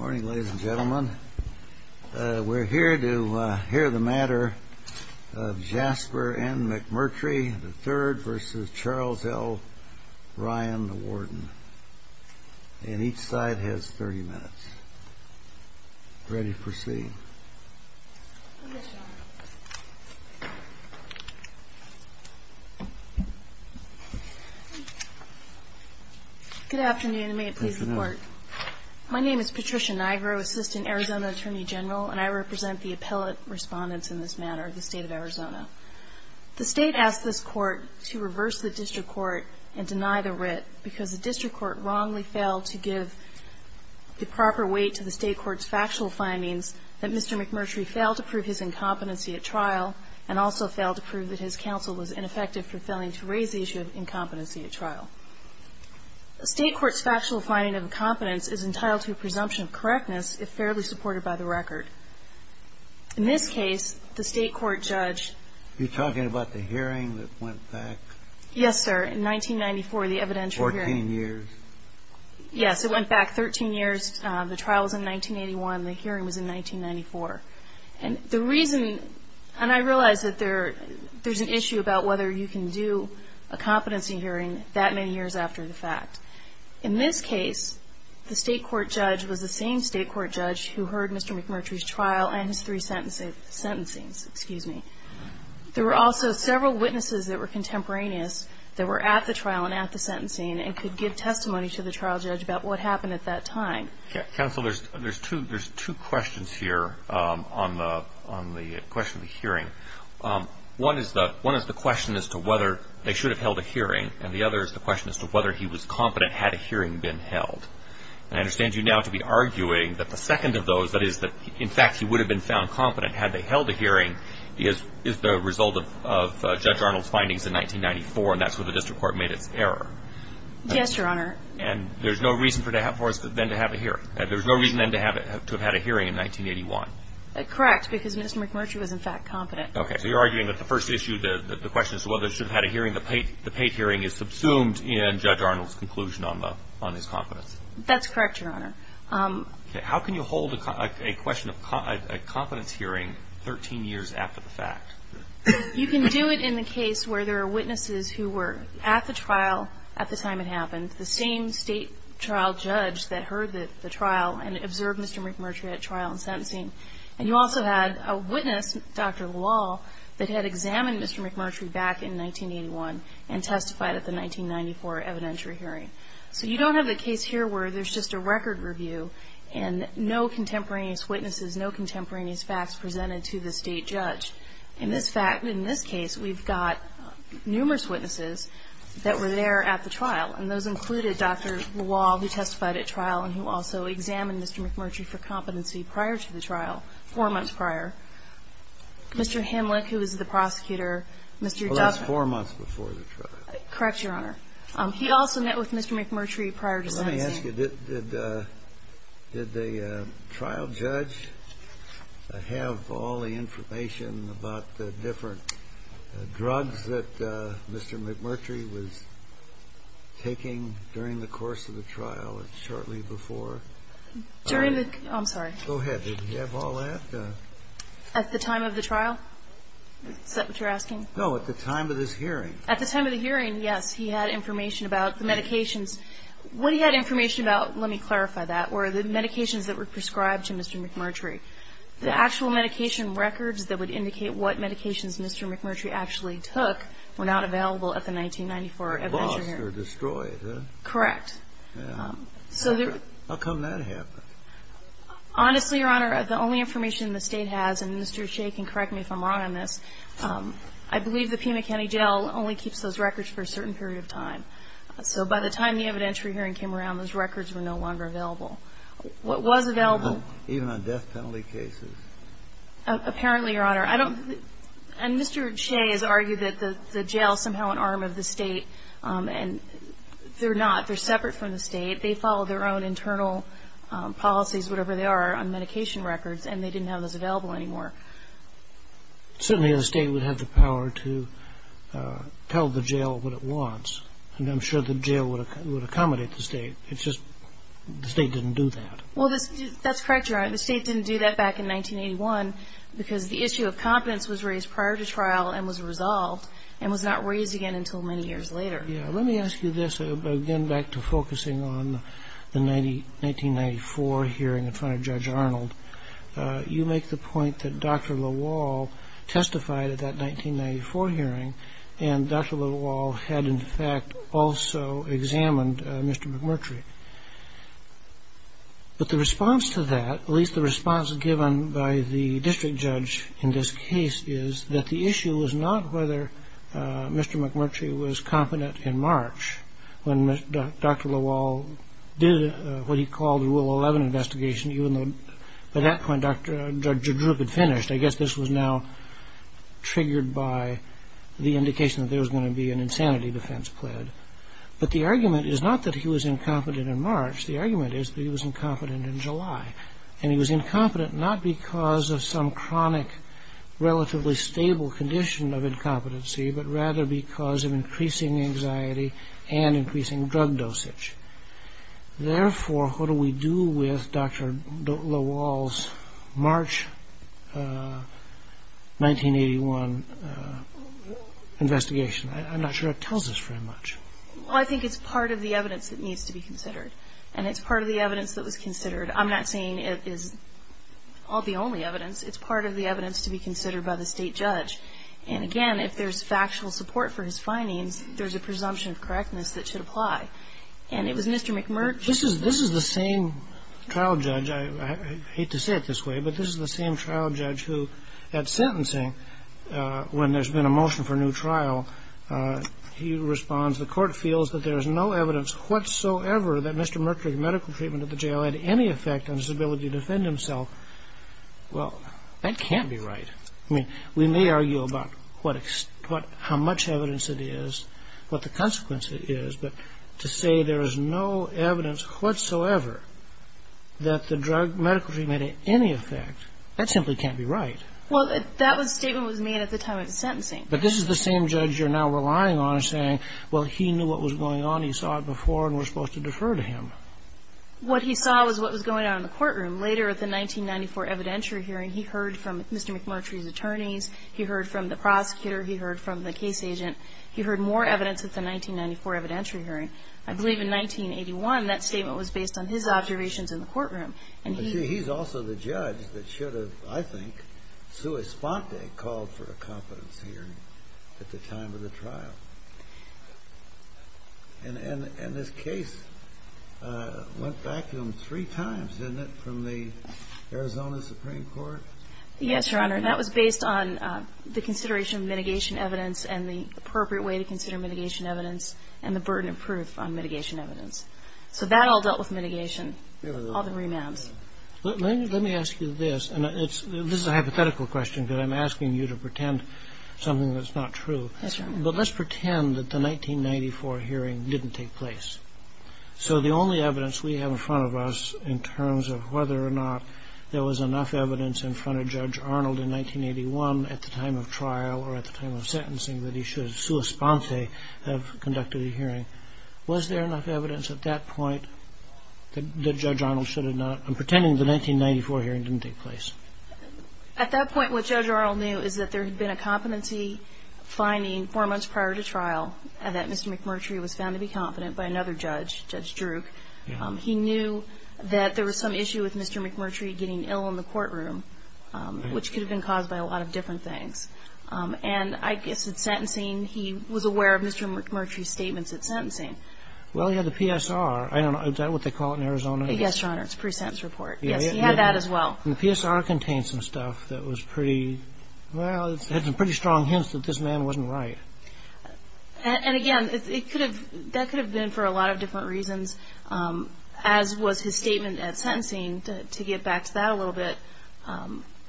Good afternoon, ladies and gentlemen. We're here to hear the matter of Jasper N. McMurtry III v. Charles L. Ryan, the warden. And each side has 30 minutes. Ready to proceed. Good afternoon, and may it please the court. My name is Patricia Nigro, Assistant Arizona Attorney General, and I represent the appellate respondents in this matter of the state of Arizona. The state asked this court to reverse the district court and deny the writ because the district court wrongly failed to give the proper weight to the state court's factual findings that Mr. McMurtry failed to prove his incompetency at trial, and also failed to prove that his counsel was ineffective for failing to raise the issue of incompetency at trial. The state court's factual finding of incompetence is entitled to a presumption of correctness if fairly supported by the record. In this case, the state court judge- You're talking about the hearing that went back? Yes, sir. In 1994, the evidential hearing. Fourteen years. Yes, it went back 13 years. The trial was in 1981. The hearing was in 1994, and the reason- and I realize that there's an issue about whether you can do a competency hearing that many years after the fact. In this case, the state court judge was the same state court judge who heard Mr. McMurtry's trial and his three sentences- sentencing, excuse me. There were also several witnesses that were contemporaneous that were at the trial and at the sentencing and could give testimony to the trial judge about what happened at that time. Counsel, there's two- There's two questions here on the question of the hearing. One is the question as to whether they should have held a hearing, and the other is the question as to whether he was competent had a hearing been held. And I understand you now to be arguing that the second of those, that is, that in fact he would have been found competent had they held a hearing, is the result of Judge Arnold's findings in 1994, and that's when the district court made an error. Yes, Your Honor. And there's no reason for us then to have a hearing. There's no reason then to have had a hearing in 1981. Correct, because Mr. McMurtry was in fact competent. Okay, so you're arguing that the first issue, the question as to whether he should have had a hearing, the Pate hearing is subsumed in Judge Arnold's conclusion on his competence. That's correct, Your Honor. How can you hold a question of- a competence hearing 13 years after the fact? You can do it in the case where there are witnesses who were at the trial at the time it happened, the same state trial judge that heard the trial and observed Mr. McMurtry at trial and sentencing, and you also had a witness, Dr. Wall, that had examined Mr. McMurtry back in 1981 and testified at the 1994 evidentiary hearing. But you don't have a case here where there's just a record review and no contemporaneous witnesses, no contemporaneous facts presented to the state judge. In this fact, in this case, we've got numerous witnesses that were there at the trial, and those included Dr. Wall, who testified at trial and who also examined Mr. McMurtry for competency prior to the trial, four months prior. Mr. Himlick, who was the prosecutor- Well, that's four months before the trial. Correct, Your Honor. He also met with Mr. McMurtry prior to- Let me ask you, did the trial judge have all the information about the different drugs that Mr. McMurtry was taking during the course of the trial and shortly before? During the- I'm sorry. Go ahead. Did he have all that? At the time of the trial? Is that what you're asking? No, at the time of this hearing. At the time of the hearing, yes, he had information about the medication. What he had information about, let me clarify that, were the medications that were prescribed to Mr. McMurtry. The actual medication records that would indicate what medications Mr. McMurtry actually took were not available at the 1994- They were lost or destroyed, huh? Correct. How come that happened? Honestly, Your Honor, the only information the state has, and Mr. Shea can correct me if I'm wrong on this, I believe the Pima County Jail only keeps those records for a certain period of time. So by the time the evidentiary hearing came around, those records were no longer available. What was available- Even on death penalty cases. Apparently, Your Honor, I don't- and Mr. Shea has argued that the jail is somehow an arm of the state, and they're not. They're separate from the state. They follow their own internal policies, whatever they are, on medication records, and they didn't have those available anymore. Certainly, the state would have the power to tell the jail what it wants, and I'm sure the jail would accommodate the state. It's just the state didn't do that. Well, that's correct, Your Honor. The state didn't do that back in 1981 because the issue of competence was raised prior to trial and was resolved and was not raised again until many years later. Yeah. Let me ask you this, again, back to focusing on the 1994 hearing in front of Judge Arnold. You make the point that Dr. LaWall testified at that 1994 hearing, and Dr. LaWall had, in fact, also examined Mr. McMurtry. But the response to that, at least the response given by the district judge in this case, is that the issue was not whether Mr. McMurtry was competent in March when Dr. LaWall did what he called the Rule 11 investigation, even though, by that point, Dr. Drup had finished. I guess this was now triggered by the indication that there was going to be an insanity defense pled. But the argument is not that he was incompetent in March. The argument is that he was incompetent in July, and he was incompetent not because of some chronic, relatively stable condition of incompetency, but rather because of increasing anxiety and increasing drug dosage. Therefore, what do we do with Dr. LaWall's March 1981 investigation? I'm not sure it tells us very much. Well, I think it's part of the evidence that needs to be considered, and it's part of the evidence that was considered. I'm not saying it is the only evidence. It's part of the evidence to be considered by the state judge. And again, if there's factual support for his findings, there's a presumption of correctness that should apply. And it was Mr. McMurray. This is the same trial judge. I hate to say it this way, but this is the same trial judge who, at sentencing, when there's been a motion for a new trial, he responds, the court feels that there is no evidence whatsoever that Mr. Mercury's medical treatment at the jail had any effect on his ability to defend himself. Well, that can't be right. I mean, we may argue about how much evidence it is, what the consequence is. But to say there is no evidence whatsoever that the drug medical treatment had any effect, that simply can't be right. Well, that statement was made at the time of the sentencing. But this is the same judge you're now relying on saying, well, he knew what was going on. He saw it before and was supposed to defer to him. What he saw was what was going on in the courtroom. Later, at the 1994 evidentiary hearing, he heard from Mr. McMurtry's attorneys. He heard from the prosecutor. He heard from the case agent. He heard more evidence at the 1994 evidentiary hearing. I believe in 1981, that statement was based on his observations in the courtroom. But, gee, he's also the judge that should have, I think, to a spot there, called for a confidence hearing at the time of the trial. And this case went back to him three times, isn't it, from the Arizona Supreme Court? Yes, Your Honor. And that was based on the consideration of mitigation evidence, and the appropriate way to consider mitigation evidence, and the burden of proof on mitigation evidence. So that all dealt with mitigation, all the remand. Let me ask you this, and this is a hypothetical question, but I'm asking you to pretend something that's not true. But let's pretend that the 1994 hearing didn't take place. So the only evidence we have in front of us in terms of whether or not there was enough evidence in front of Judge Arnold in 1981, at the time of trial, or at the time of sentencing, that he should have, sua sponsae, have conducted a hearing. Was there enough evidence at that point that Judge Arnold should have not, I'm pretending the 1994 hearing didn't take place. At that point, what Judge Arnold knew is that there had been a competency finding four months prior to trial, and that Mr. McMurtry was found to be competent by another judge, Judge Druk. He knew that there was some issue with Mr. McMurtry getting ill in the courtroom, which could have been caused by a lot of different things. And I guess in sentencing, he was aware of Mr. McMurtry's statements at sentencing. Well, he had the PSR. I don't know, is that what they call it in Arizona? Yes, Your Honor, it's a pre-sentence report. He had that as well. The PSR contained some stuff that was pretty, well, it had some pretty strong hints that this man wasn't right. And again, that could have been for a lot of different reasons. As was his statement at sentencing, to get back to that a little bit.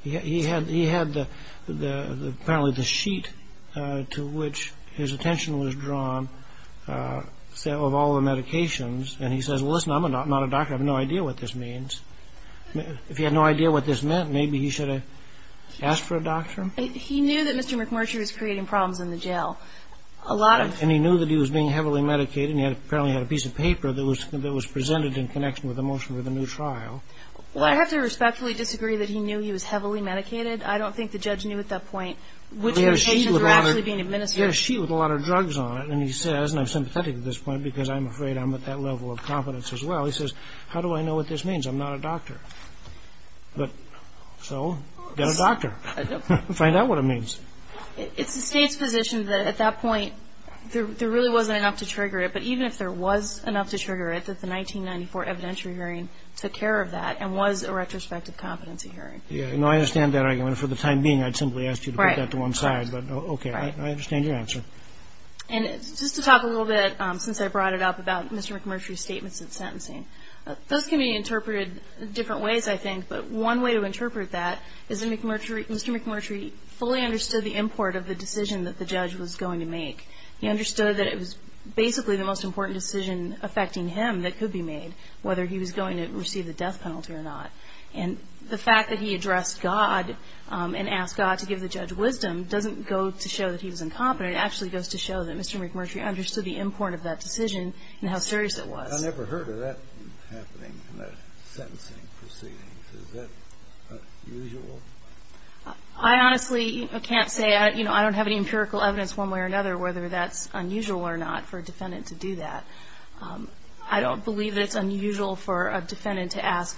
He had apparently the sheet to which his attention was drawn of all the medications. And he says, well, listen, I'm not a doctor. I have no idea what this means. If he had no idea what this meant, maybe he should have asked for a doctor. He knew that Mr. McMurtry was creating problems in the jail. And he knew that he was being heavily medicated, apparently he had a piece of paper that was presented in connection with the motion of the new trial. Well, I have to respectfully disagree that he knew he was heavily medicated. I don't think the judge knew at that point which medications were actually being administered. There's a sheet with a lot of drugs on it. And he says, and I'm sympathetic at this point, because I'm afraid I'm at that level of confidence as well. He says, how do I know what this means? I'm not a doctor. But, so, get a doctor. Find out what it means. It's the state's position that at that point, there really wasn't enough to trigger it. But even if there was enough to trigger it, that the 1994 evidentiary hearing took care of that and was a retrospective competency hearing. Yeah, no, I understand that argument. For the time being, I'd simply ask you to put that to one side. But, okay, I understand your answer. And just to talk a little bit, since I brought it up, about Mr. McMurtry's statements of sentencing. Those can be interpreted different ways, I think. But one way to interpret that is that Mr. McMurtry fully understood the import of the decision that the judge was going to make. He understood that it was basically the most important decision affecting him that could be made, whether he was going to receive the death penalty or not. And the fact that he addressed God and asked God to give the judge wisdom doesn't go to show that he was incompetent. It actually goes to show that Mr. McMurtry understood the import of that decision and how serious it was. I never heard of that happening, that sentencing proceedings. Is that unusual? I honestly can't say. I don't have any empirical evidence one way or another whether that's unusual or not for a defendant to do that. I don't believe it's unusual for a defendant to ask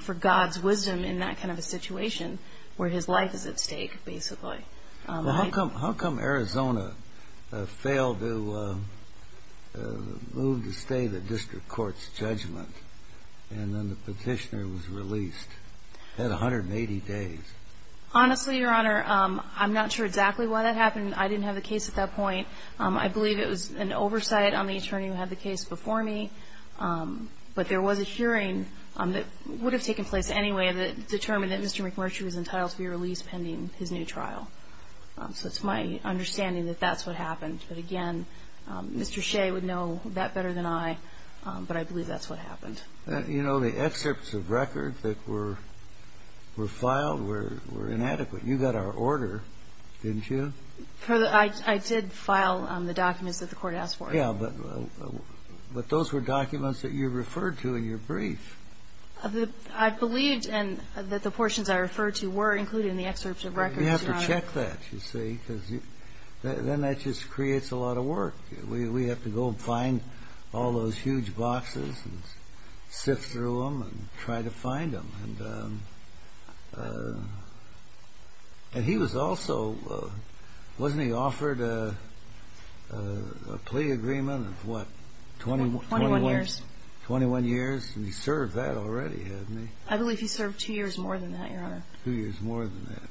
for God's wisdom in that kind of a situation where his life is at stake, basically. How come Arizona failed to move to stay the district court's judgment and then the petitioner was released? It had 180 days. Honestly, Your Honor, I'm not sure exactly why that happened. I didn't have the case at that point. I believe it was an oversight on the attorney who had the case before me. But there was a hearing that would have taken place anyway that determined that Mr. McMurtry was entitled to be released pending his new trial. So it's my understanding that that's what happened. But again, Mr. Shea would know that better than I. But I believe that's what happened. You know, the excerpts of record that were filed were inadequate. You got our order, didn't you? I did file the documents that the court asked for. Yeah, but those were documents that you referred to in your brief. I believed that the portions I referred to were included in the excerpts of record. You have to check that, you see, because then that just creates a lot of work. We have to go find all those huge boxes and sift through them and try to find them. And he was also, wasn't he offered a plea agreement of what, 21 years? And he served that already, hasn't he? I believe he served two years more than that, Your Honor. Two years more than that.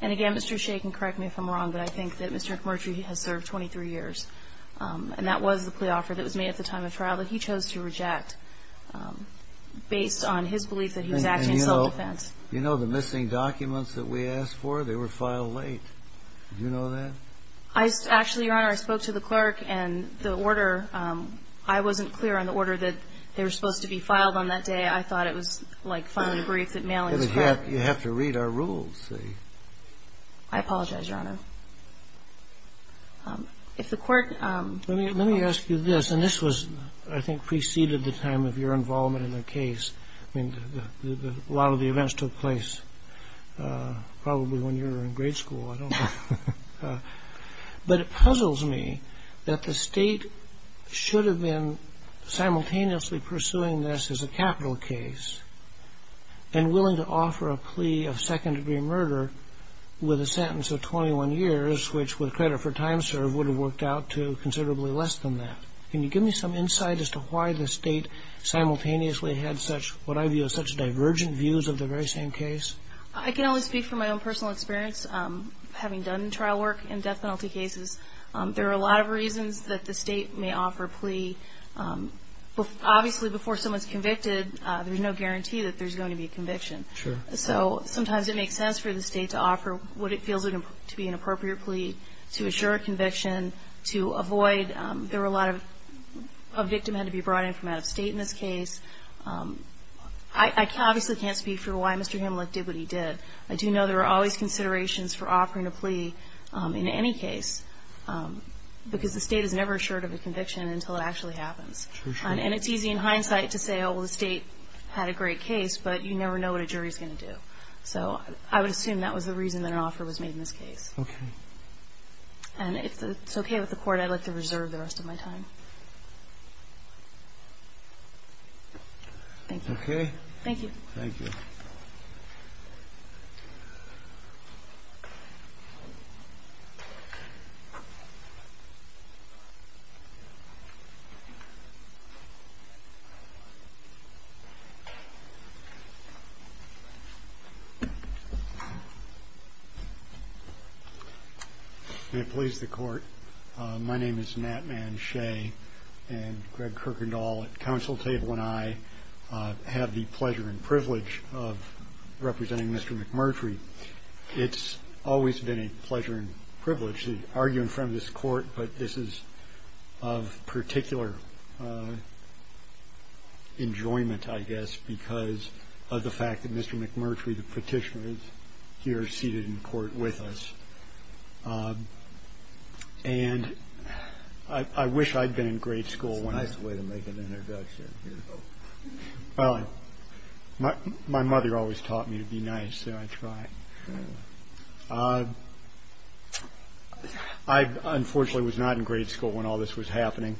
And again, Mr. Shea can correct me if I'm wrong, but I think that Mr. McMurtry has served 23 years. And that was the plea offer that was made at the time of trial that he chose to reject based on his belief that he was actually self-defense. You know the missing documents that we asked for? They were filed late. Did you know that? Actually, Your Honor, I spoke to the clerk and the order, I wasn't clear on the order that they were supposed to be filed on that day. I thought it was like someone briefed at mailing. You have to read our rules, see. I apologize, Your Honor. If the court... Let me ask you this, and this was, I think, preceded the time of your involvement in the case. A lot of the events took place probably when you were in grade school. But it puzzles me that the state should have been simultaneously pursuing this as a capital case and willing to offer a plea of second-degree murder with a sentence of 21 years, which, with credit for time served, would have worked out to considerably less than that. Can you give me some insight as to why the state simultaneously had such, what I view as such divergent views of the very same case? I can only speak from my own personal experience. Having done trial work in death penalty cases, there are a lot of reasons that the state may offer a plea. Obviously, before someone's convicted, there's no guarantee that there's going to be conviction. So sometimes it makes sense for the state to offer what it feels to be an appropriate plea to assure a conviction, to avoid... There were a lot of... A victim had to be brought in from out of state in this case. I obviously can't speak for why Mr. Hamlet did what he did. I do know there are always considerations for offering a plea in any case, because the state is never assured of a conviction until it actually happens. And it's easy in hindsight to say, oh, well, the state had a great case, but you never know what a jury's going to do. So I would assume that was the reason that an offer was made in this case. Okay. And if it's okay with the court, I'd like to reserve the rest of my time. Thank you. Okay. Thank you. Thank you. May it please the court. My name is Nat Man Shea and Greg Kirkendall at counsel table, and I have the pleasure and privilege of representing Mr. McMurtry. It's always been a pleasure and privilege to argue in front of this court, but this is of particular enjoyment, I guess, because of the fact that Mr. McMurtry, the petitioner, is here seated in court with us. And I wish I'd been in grade school. That's a way to make an introduction. Well, my mother always taught me to be nice, so I try. I unfortunately was not in grade school when all this was happening.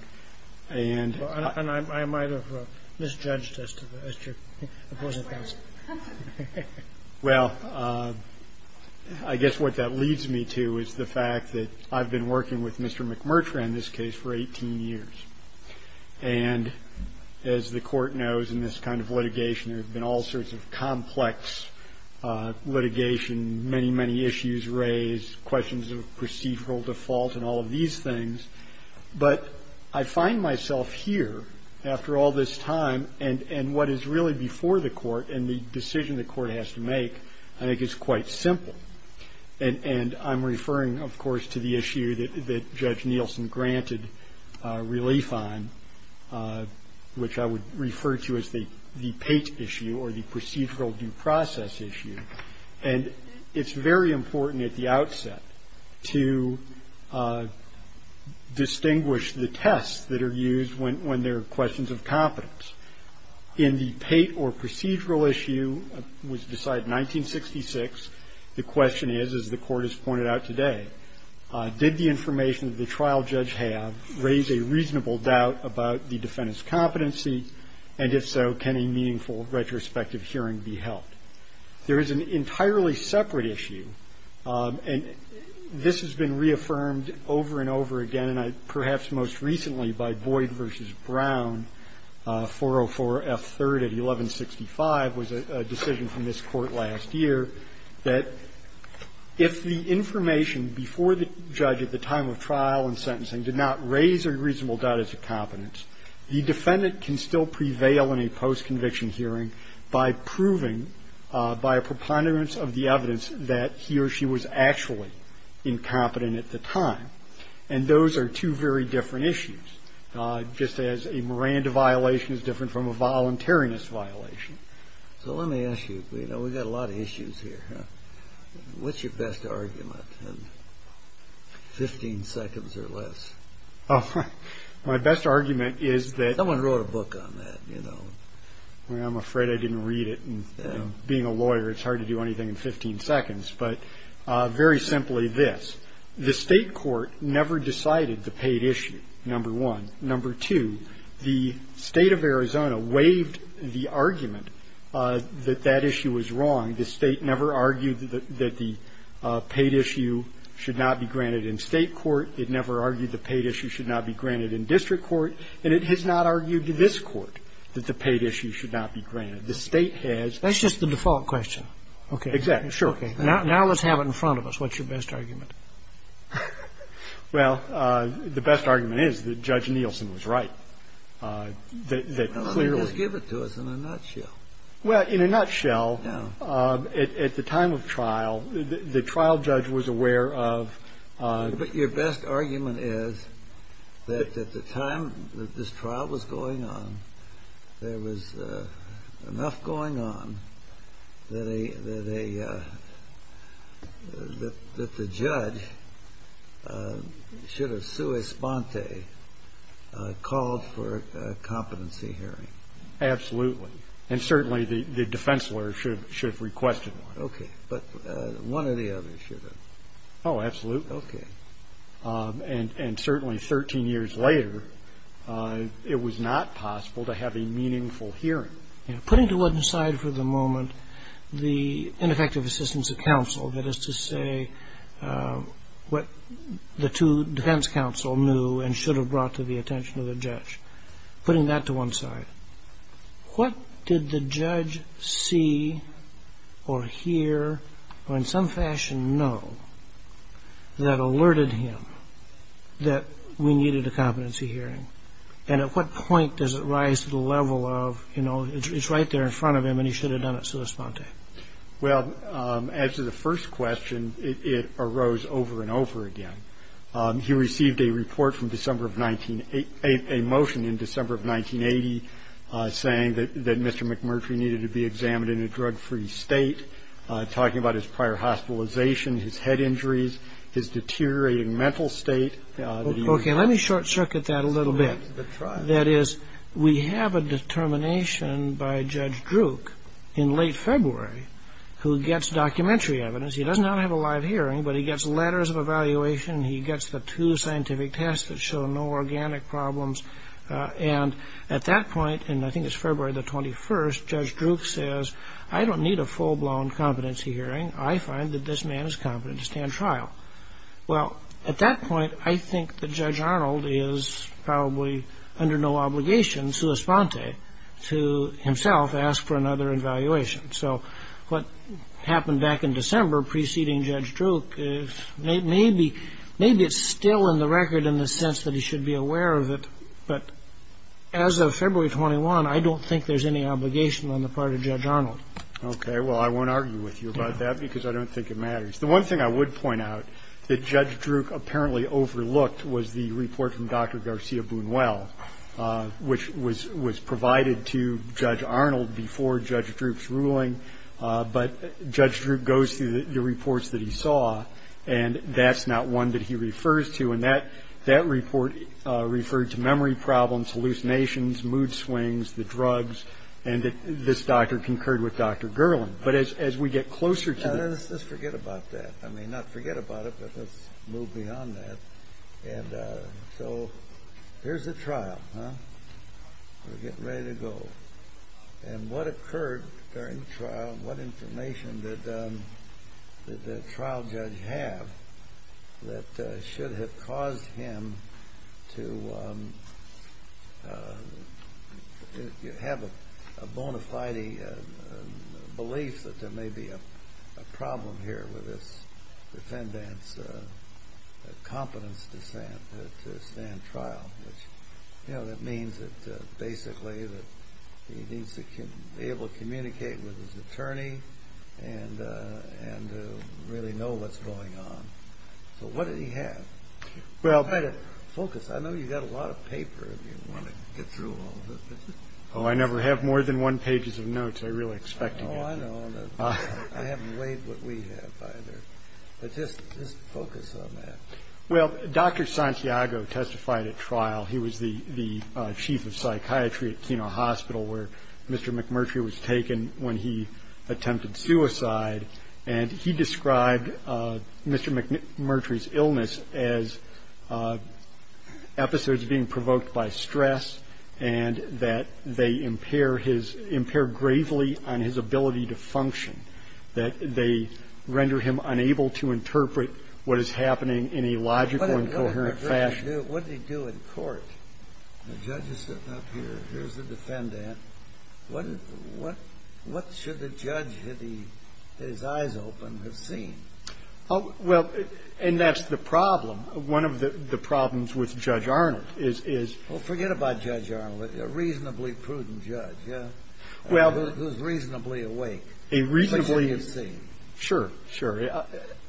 And I might have misjudged as to the question. Well, I guess what that leads me to is the fact that I've been working with Mr. McMurtry on this case for 18 years, and as the court knows in this kind of litigation, there have been all sorts of complex litigation, many, many issues raised, questions of procedural default and all of these things. But I find myself here after all this time, and what is really before the court and the decision the court has to make, I think is quite simple. And I'm referring, of course, to the issue that Judge Nielsen granted relief on, which I would refer to as the PATE issue or the procedural due process issue. And it's very important at the outset to distinguish the tests that are used when there are questions of competence. In the PATE or procedural issue, it was decided in 1966, the question is, as the court has pointed out today, did the information that the trial judge have raise a reasonable doubt about the defendant's competency, and if so, can a meaningful retrospective hearing be held? There is an entirely separate issue, and this has been reaffirmed over and over again, perhaps most recently by Boyd v. Brown, 404 F. 3rd of 1165 was a decision from this court last year, that if the information before the judge at the time of trial and sentencing did not raise a reasonable doubt as to competence, the defendant can still prevail in a post-conviction hearing by proving by a preponderance of the evidence that he or she was actually incompetent at the time. And those are two very different issues, just as a Miranda violation is different from a voluntariness violation. So let me ask you, you know, we've got a lot of issues here. What's your best argument in 15 seconds or less? Oh, my best argument is that... Someone wrote a book on that, you know. I'm afraid I didn't read it. Being a lawyer, it's hard to do anything in 15 seconds. But very simply this, the state court never decided the paid issue, number one. Number two, the state of Arizona waived the argument that that issue was wrong. The state never argued that the paid issue should not be granted in state court. It never argued the paid issue should not be granted in district court. And it has not argued to this court that the paid issue should not be granted. The state has... That's just the default question. Okay. Exactly. Sure. Now let's have it in front of us. What's your best argument? Well, the best argument is that Judge Nielsen was right. That clearly... Just give it to us in a nutshell. Well, in a nutshell, at the time of trial, the trial judge was aware of... But your best argument is that at the time that this trial was going on, there was enough going on that the judge should have sua exponte, called for a competency hearing. Absolutely. And certainly the defense lawyer should have requested that. Okay. But one or the other should have. Oh, absolutely. Okay. And certainly 13 years later, it was not possible to have a meaningful hearing. Putting to one side for the moment the ineffective assistance of counsel, that is to say what the two defense counsel knew and should have brought to the attention of the judge. Putting that to one side, what did the judge see or hear or in some fashion know that alerted him that we needed a competency hearing? And at what point does it rise to the level of it's right there in front of him and he should have done it sua exponte? Well, as to the first question, it arose over and over again. He received a report from December of... A motion in December of 1980 saying that Mr. McMurtry needed to be examined in a drug-free state, talking about his prior hospitalization, his head injuries, his deteriorating mental state. Okay. Let me short circuit that a little bit. That is, we have a determination by Judge Druk in late February who gets documentary evidence. He does not have a live hearing, but he gets letters of evaluation. He gets the two scientific tests that show no organic problems. And at that point, and I think it's February the 21st, Judge Druk says, I don't need a full-blown competency hearing. I find that this man is competent to stand trial. Well, at that point, I think that Judge Arnold is probably under no obligation sua exponte to himself ask for another evaluation. So what happened back in December preceding Judge Druk is maybe it's still in the record in the sense that he should be aware of it. But as of February 21, I don't think there's any obligation on the part of Judge Arnold. Okay. Well, I won't argue with you about that because I don't think it matters. The one thing I would point out that Judge Druk apparently overlooked was the report from Dr. Garcia-Bunuel, which was provided to Judge Arnold before Judge Druk's ruling. But Judge Druk goes through the reports that he saw, and that's not one that he refers to. And that report referred to memory problems, hallucinations, mood swings, the drugs, and this doctor concurred with Dr. Gerland. But as we get closer to that... Let's just forget about that. I mean, not forget about it, but let's move beyond that. And so here's the trial. We're getting ready to go. And what occurred during the trial, what information did the trial judge have that should have caused him to have a bona fide belief that there may be a problem here with his defendant's confidence to stand trial? Which, you know, that means that basically that he needs to be able to communicate with his attorney and really know what's going on. So what did he have? Well... Try to focus. I know you've got a lot of paper if you want to get through all of this. Oh, I never have more than one pages of notes. I really expect you to. Oh, I know. I haven't read what we have either. But just focus on that. Well, Dr. Santiago testified at trial. He was the chief of psychiatry at Keno Hospital where Mr. McMurtry was taken when he attempted suicide. And he described Mr. McMurtry's illness as episodes being provoked by stress and that they impair gravely on his ability to function, that they render him unable to interpret what is happening in a logical and coherent fashion. What did he do in court? The judge is sitting up here. Here's the defendant. What should the judge, had his eyes open, have seen? Well, and that's the problem. One of the problems with Judge Arnold is... Well, forget about Judge Arnold. A reasonably prudent judge, yeah? Well... Who's reasonably awake. A reasonably... He should have seen. Sure, sure.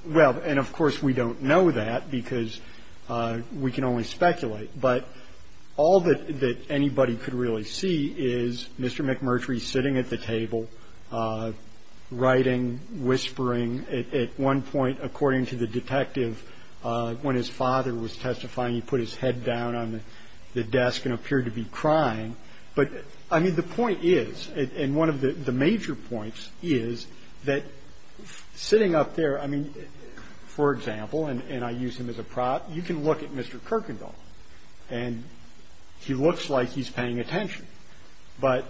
Well, and of course we don't know that because we can only speculate. But all that anybody could really see is Mr. McMurtry sitting at the table, writing, whispering. At one point, according to the detective, when his father was testifying, he put his head down on the desk and appeared to be crying. But, I mean, the point is, and one of the major points is, that sitting up there, I use him as a prop. You can look at Mr. Kirkendall, and he looks like he's paying attention. But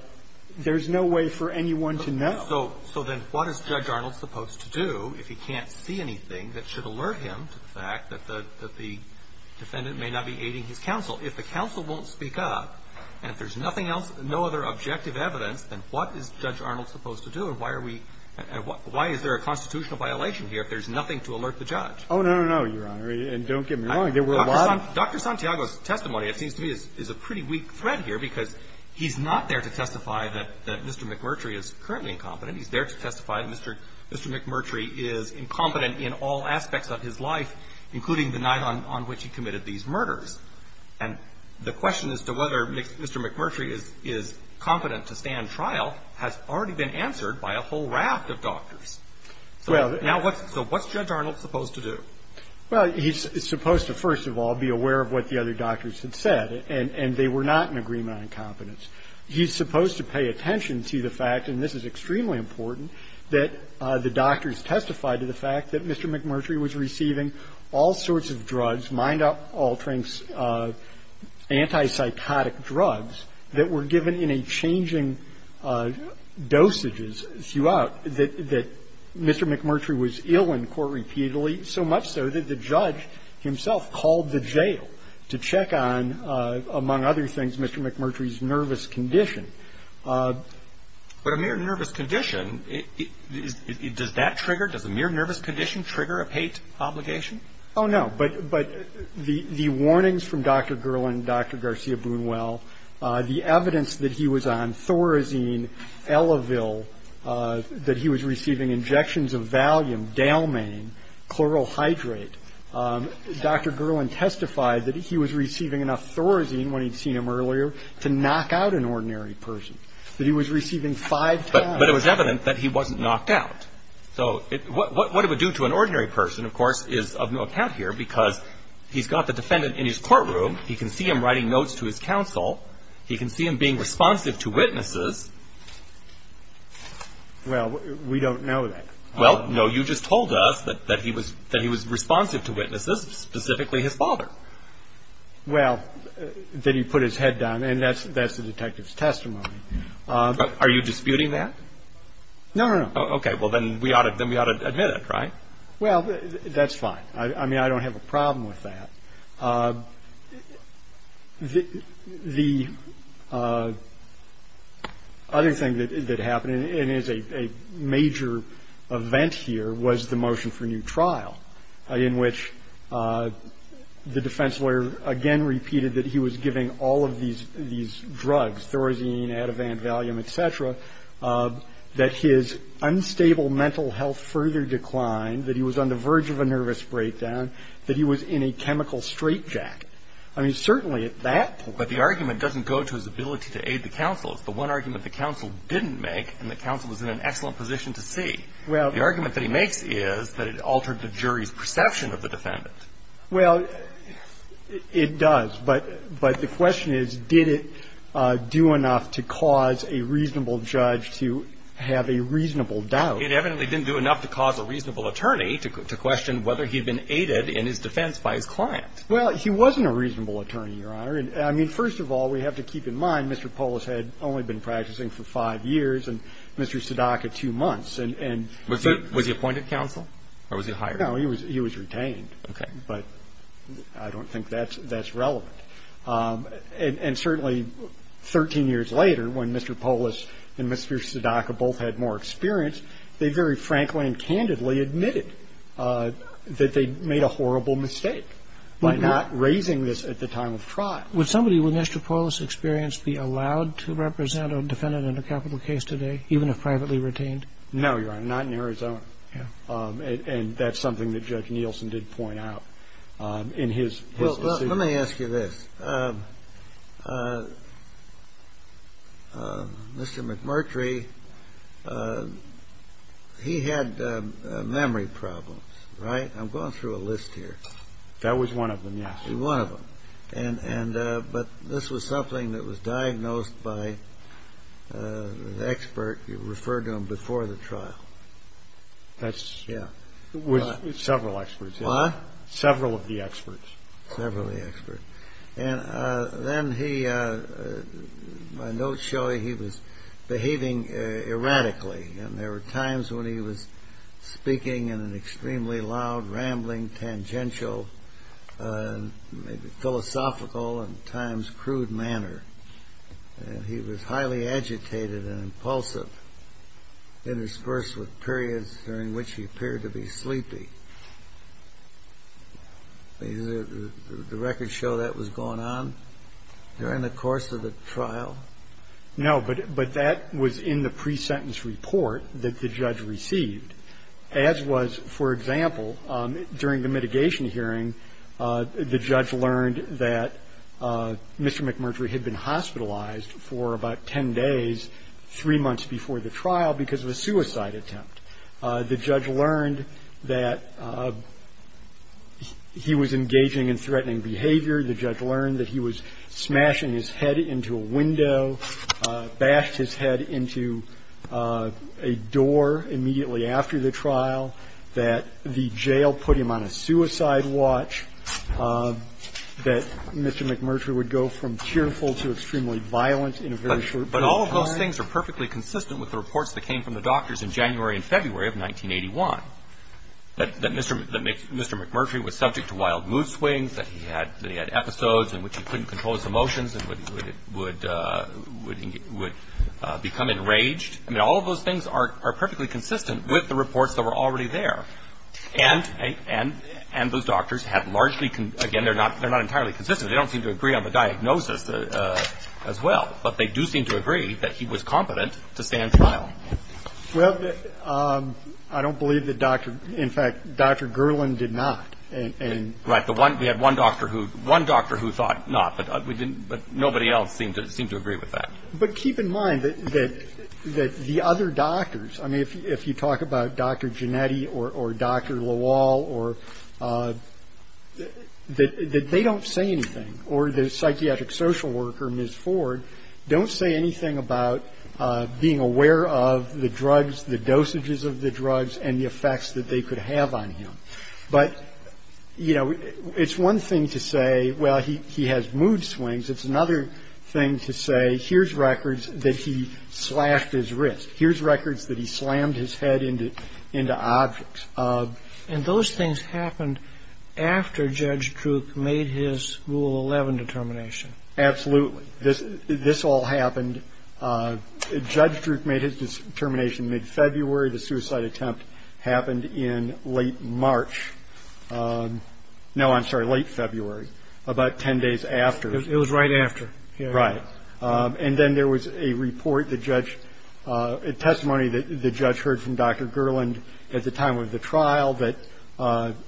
there's no way for anyone to know. So then what is Judge Arnold supposed to do if he can't see anything that should alert him to the fact that the defendant may not be aiding his counsel? If the counsel won't speak up, and if there's nothing else, no other objective evidence, then what is Judge Arnold supposed to do? And why is there a constitutional violation here if there's nothing to alert the judge? Oh, no, no, no, Your Honor. And don't get me wrong. There were a lot of... Dr. Santiago's testimony, it seems to me, is a pretty weak thread here because he's not there to testify that Mr. McMurtry is currently incompetent. He's there to testify that Mr. McMurtry is incompetent in all aspects of his life, including the night on which he committed these murders. And the question as to whether Mr. McMurtry is confident to stand trial has already been answered by a whole raft of doctors. Now, so what's Judge Arnold supposed to do? Well, he's supposed to, first of all, be aware of what the other doctors had said, and they were not in agreement on incompetence. He's supposed to pay attention to the fact, and this is extremely important, that the doctors testified to the fact that Mr. McMurtry was receiving all sorts of drugs, mind-altering antipsychotic drugs, that were given in a changing dosage that Mr. McMurtry was ill in court repeatedly, so much so that the judge himself called the jail to check on, among other things, Mr. McMurtry's nervous condition. But a mere nervous condition, does that trigger, does a mere nervous condition trigger a paid obligation? Oh, no. But the warnings from Dr. Gerland, Dr. Garcia-Boonwell, the evidence that he was on Thorazine, Elevil, that he was receiving injections of Valium, Dalman, chloral hydrate, Dr. Gerland testified that he was receiving enough Thorazine, when he'd seen him earlier, to knock out an ordinary person, that he was receiving five times. But it was evident that he wasn't knocked out. So, what it would do to an ordinary person, of course, is of no account here, because he's got the defendant in his courtroom, he can see him writing notes to his counsel, he can see him being responsive to witnesses. Well, we don't know that. Well, no, you just told us that he was responsive to witnesses, specifically his father. Well, that he put his head down, and that's the detective's testimony. Are you disputing that? No, no, no. Okay, well, then we ought to admit it, right? Well, that's fine. I mean, I don't have a problem with that. The other thing that happened, and it's a major event here, was the motion for new trial, in which the defense lawyer again repeated that he was giving all of these drugs, Thorazine, Ativan, Valium, et cetera, that his unstable mental health further declined, that he was on the verge of a nervous breakdown, that he was in a chemical straitjacket. I mean, certainly at that point. But the argument doesn't go to his ability to aid the counsel. It's the one argument the counsel didn't make, and the counsel was in an excellent position to see. The argument that he makes is that it altered the jury's perception of the defendants. Well, it does. But the question is, did it do enough to cause a reasonable judge to have a reasonable doubt? It evidently didn't do enough to cause a reasonable attorney to question whether he'd been aided in his defense by a client. Well, he wasn't a reasonable attorney, Your Honor. I mean, first of all, we have to keep in mind Mr. Polis had only been practicing for five years, and Mr. Sadaka two months. Was he appointed counsel? Or was he hired? No, he was retained. But I don't think that's relevant. And certainly, 13 years later, when Mr. Polis and Mr. Sadaka both had more experience, they very frankly and candidly admitted that they made a horrible mistake by not raising this at the time of trial. Would somebody with Mr. Polis' experience be allowed to represent a defendant in a capital case today, even if privately retained? No, Your Honor, not in Arizona. And that's something that Judge Nielsen did point out in his... Well, let me ask you this. Mr. McMurtry, he had memory problems, right? I'm going through a list here. That was one of them, yes. One of them. But this was something that was diagnosed by an expert who referred to him before the trial. That's, yeah. Several experts. What? Several of the experts. Several of the experts. And then he, my notes show he was behaving erratically. And there were times when he was speaking in an extremely loud, rambling, tangential, philosophical, and at times crude manner. And he was highly agitated and impulsive, interspersed with periods during which he appeared to be sleepy. The records show that was going on during the course of the trial? No, but that was in the pre-sentence report that the judge received, as was, for example, during the mitigation hearing, the judge learned that Mr. McMurtry had been hospitalized for about 10 days, three months before the trial because of a suicide attempt. The judge learned that he was engaging in threatening behavior. The judge learned that he was smashing his head into a window, bashed his head into a jail, put him on a suicide watch, that Mr. McMurtry would go from cheerful to extremely violent in a very short period of time. But all of those things are perfectly consistent with the reports that came from the doctors in January and February of 1981, that Mr. McMurtry was subject to wild mood swings, that he had episodes in which he couldn't control his emotions and would become enraged. All of those things are perfectly consistent with the reports that were already there. And those doctors have largely, again, they're not entirely consistent. They don't seem to agree on the diagnosis as well, but they do seem to agree that he was competent to stand trial. Well, I don't believe that, in fact, Dr. Gerland did not. Right, we had one doctor who thought not, but nobody else seemed to agree with that. But keep in mind that the other doctors, I mean, if you talk about Dr. Genetti or Dr. Lawal, that they don't say anything, or the psychiatric social worker, Ms. Ford, don't say anything about being aware of the drugs, the dosages of the drugs, and the effects that they could have on him. But, you know, it's one thing to say, well, he has mood swings. It's another thing to say, here's records that he slashed his wrist. Here's records that he slammed his head into objects. And those things happened after Judge Krook made his school 11 determination. Absolutely. This all happened. Judge Krook made his determination mid-February. The suicide attempt happened in late March. No, I'm sorry, late February, about 10 days after. It was right after. Right. And then there was a report, a testimony that the judge heard from Dr. Gerland at the time of the trial that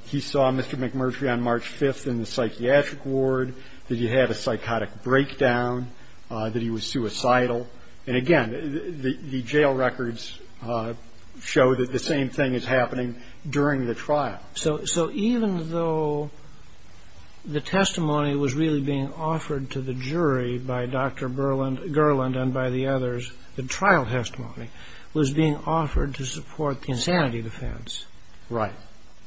he saw Mr. McMurtry on March 5th in the psychiatric ward, that he had a psychotic breakdown, that he was suicidal. And again, the jail records show that the same thing is happening during the trial. So even though the testimony was really being offered to the jury by Dr. Gerland and by the others, the trial testimony was being offered to support the insanity defense. Right.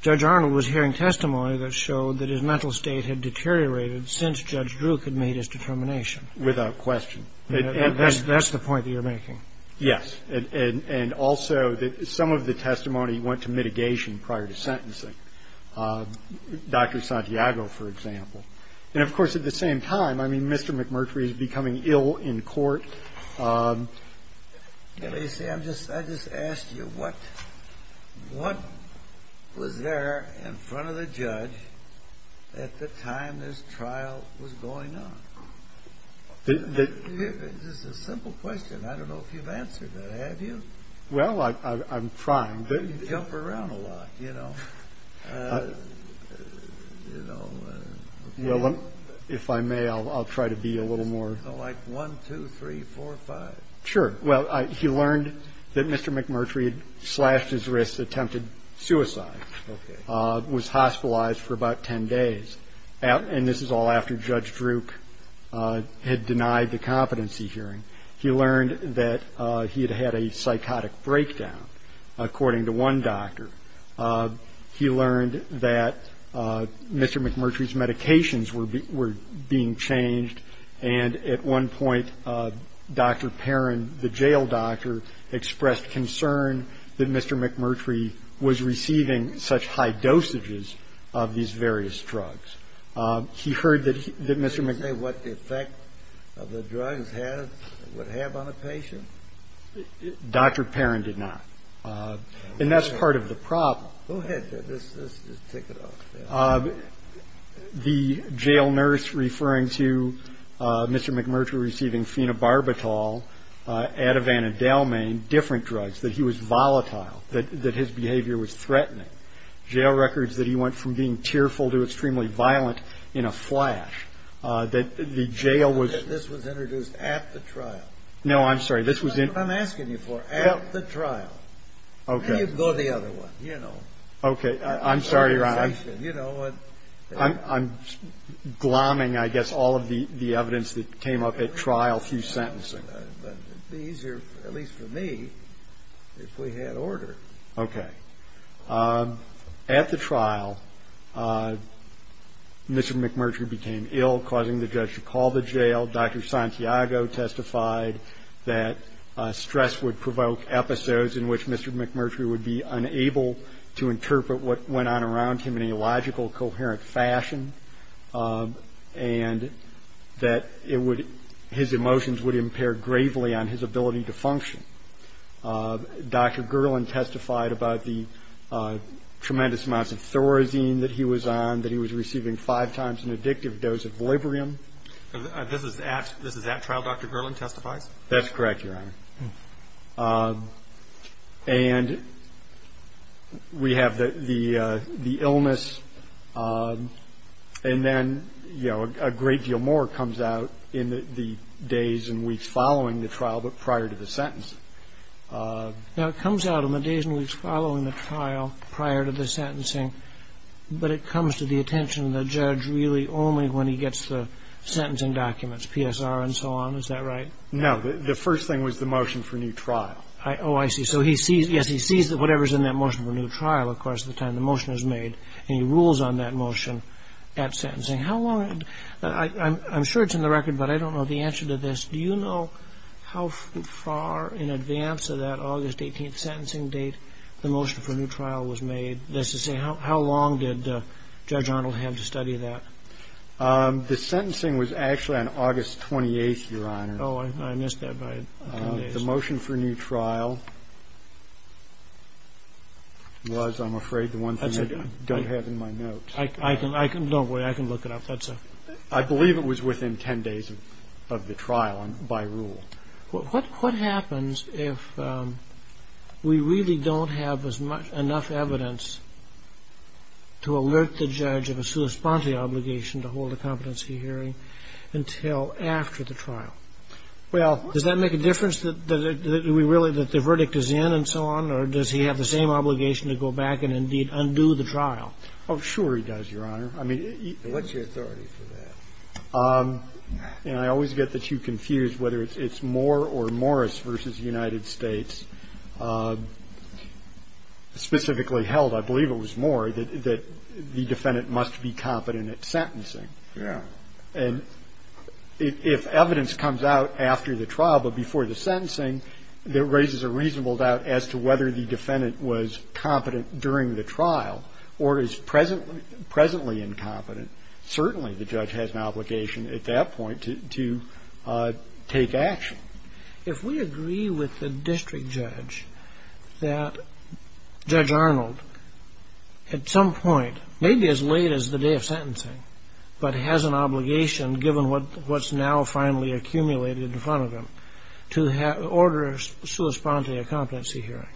Judge Arnold was hearing testimony that showed that his mental state had deteriorated since Judge Krook had made his determination. That's the point that you're making. Yes, and also some of the testimony went to mitigation prior to sentencing. Dr. Santiago, for example. And of course, at the same time, I mean, Mr. McMurtry is becoming ill in court. I just asked you, what was there in front of the judge at the time this trial was going on? It's just a simple question. I don't know if you've answered that, have you? Well, I'm trying. You jump around a lot, you know. If I may, I'll try to be a little more... Like one, two, three, four, five. Sure. Well, he learned that Mr. McMurtry had slashed his wrist, attempted suicide, was hospitalized for about 10 days. And this is all after Judge Krook had denied the competency hearing. He learned that he had had a psychotic breakdown, according to one doctor. He learned that Mr. McMurtry's medications were being changed. And at one point, Dr. Perrin, the jail doctor, expressed concern that Mr. McMurtry was receiving such high dosages of these various drugs. He heard that Mr. McMurtry... Did he say what effect the drug would have on a patient? Dr. Perrin did not. And that's part of the problem. Go ahead, let's take it off the air. The jail nurse referring to Mr. McMurtry receiving phenobarbital, Ativan and Dalmain, jail records that he went from being tearful to extremely violent in a flash. That the jail was... This was introduced at the trial. No, I'm sorry. This was in... I'm asking you for at the trial. Okay. And you go to the other one, you know. Okay. I'm sorry, Ron. I'm glomming, I guess, all of the evidence that came up at trial through sentencing. It'd be easier, at least for me, if we had order. Okay. At the trial, Mr. McMurtry became ill, causing the judge to call the jail. Dr. Santiago testified that stress would provoke episodes in which Mr. McMurtry would be unable to interpret what went on around him in a logical, coherent fashion. And that it would... His emotions would impair gravely on his ability to function. Dr. Gerland testified about the tremendous amounts of Thorazine that he was on, that he was receiving five times an addictive dose of Librium. This is that trial Dr. Gerland testified? That's correct, Your Honor. And we have the illness and then, you know, a great deal more comes out in the days and weeks following the trial, but prior to the sentence. Now, it comes out in the days and weeks following the trial, prior to the sentencing, but it comes to the attention of the judge really only when he gets the sentencing documents, PSR and so on. Is that right? No, the first thing was the motion for new trial. Oh, I see. So he sees, yes, he sees whatever's in that motion for new trial, of course, at the time the motion is made, and he rules on that motion at sentencing. How long, I'm sure it's in the record, but I don't know the answer to this. Do you know how far in advance of that August 18th sentencing date, the motion for new trial was made? How long did Judge Arnold have to study that? The sentencing was actually on August 28th, Your Honor. Oh, I missed that by 10 days. The motion for new trial was, I'm afraid, the one thing I don't have in my notes. I can, don't worry, I can look it up, that's all. I believe it was within 10 days of the trial by rule. What happens if we really don't have as much, enough evidence to alert the judge of a sui sponte obligation to hold a competency hearing until after the trial? Well, does that make a difference that we really, that the verdict is in and so on, or does he have the same obligation to go back and indeed undo the trial? Oh, sure he does, Your Honor. What's your authority for that? And I always get the two confused, whether it's Moore or Morris versus United States. Specifically held, I believe it was Moore, that the defendant must be competent at sentencing. And if evidence comes out after the trial, but before the sentencing, that raises a reasonable doubt as to whether the defendant was competent during the trial or is presently incompetent. Certainly the judge has an obligation at that point to take action. If we agree with the district judge that Judge Arnold at some point, maybe as late as the day of sentencing, but has an obligation given what's now finally accumulated in front of him, to order a sui sponte competency hearing,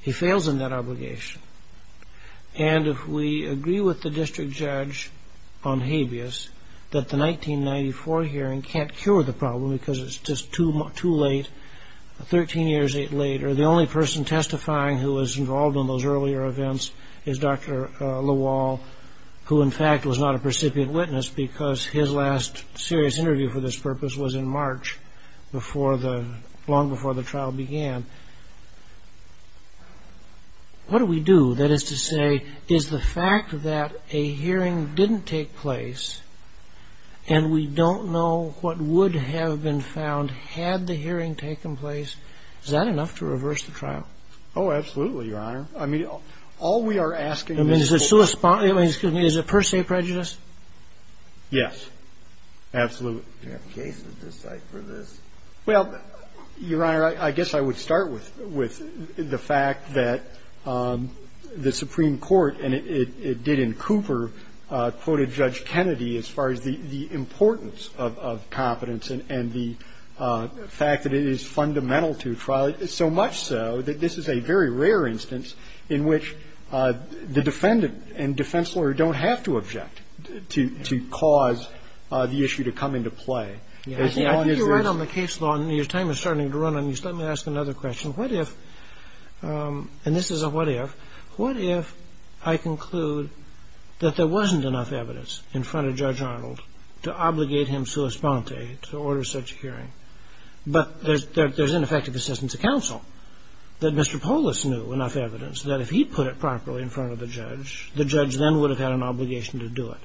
he fails in that obligation. And if we agree with the district judge on habeas, that the 1994 hearing can't cure the problem because it's just too late. Thirteen years later, the only person testifying who was involved in those earlier events is Dr. Lawal, who in fact was not a precipient witness because his last serious interview for this purpose was in March, long before the trial began. What do we do? That is to say, is the fact that a hearing didn't take place and we don't know what would have been found had the hearing taken place, is that enough to reverse the trial? Oh, absolutely, Your Honor. I mean, all we are asking is a per se prejudice. Yes, absolutely. Well, Your Honor, I guess I would start with the fact that the Supreme Court, and it did in Cooper, quoted Judge Kennedy as far as the importance of competence and the fact that it is fundamental to trial, so much so that this is a very rare instance in which the defendant and defense lawyer don't have to object to cause the issue to come into play. After you write on the case law and your time is starting to run on these, let me ask another question. What if, and this is a what if, what if I conclude that there wasn't enough evidence in front of Judge Arnold to obligate him sui sponte to order such a hearing, but that there's ineffective assistance of counsel, that Mr. Polis knew enough evidence that if he put it properly in front of the judge, the judge then would have had an obligation to do it?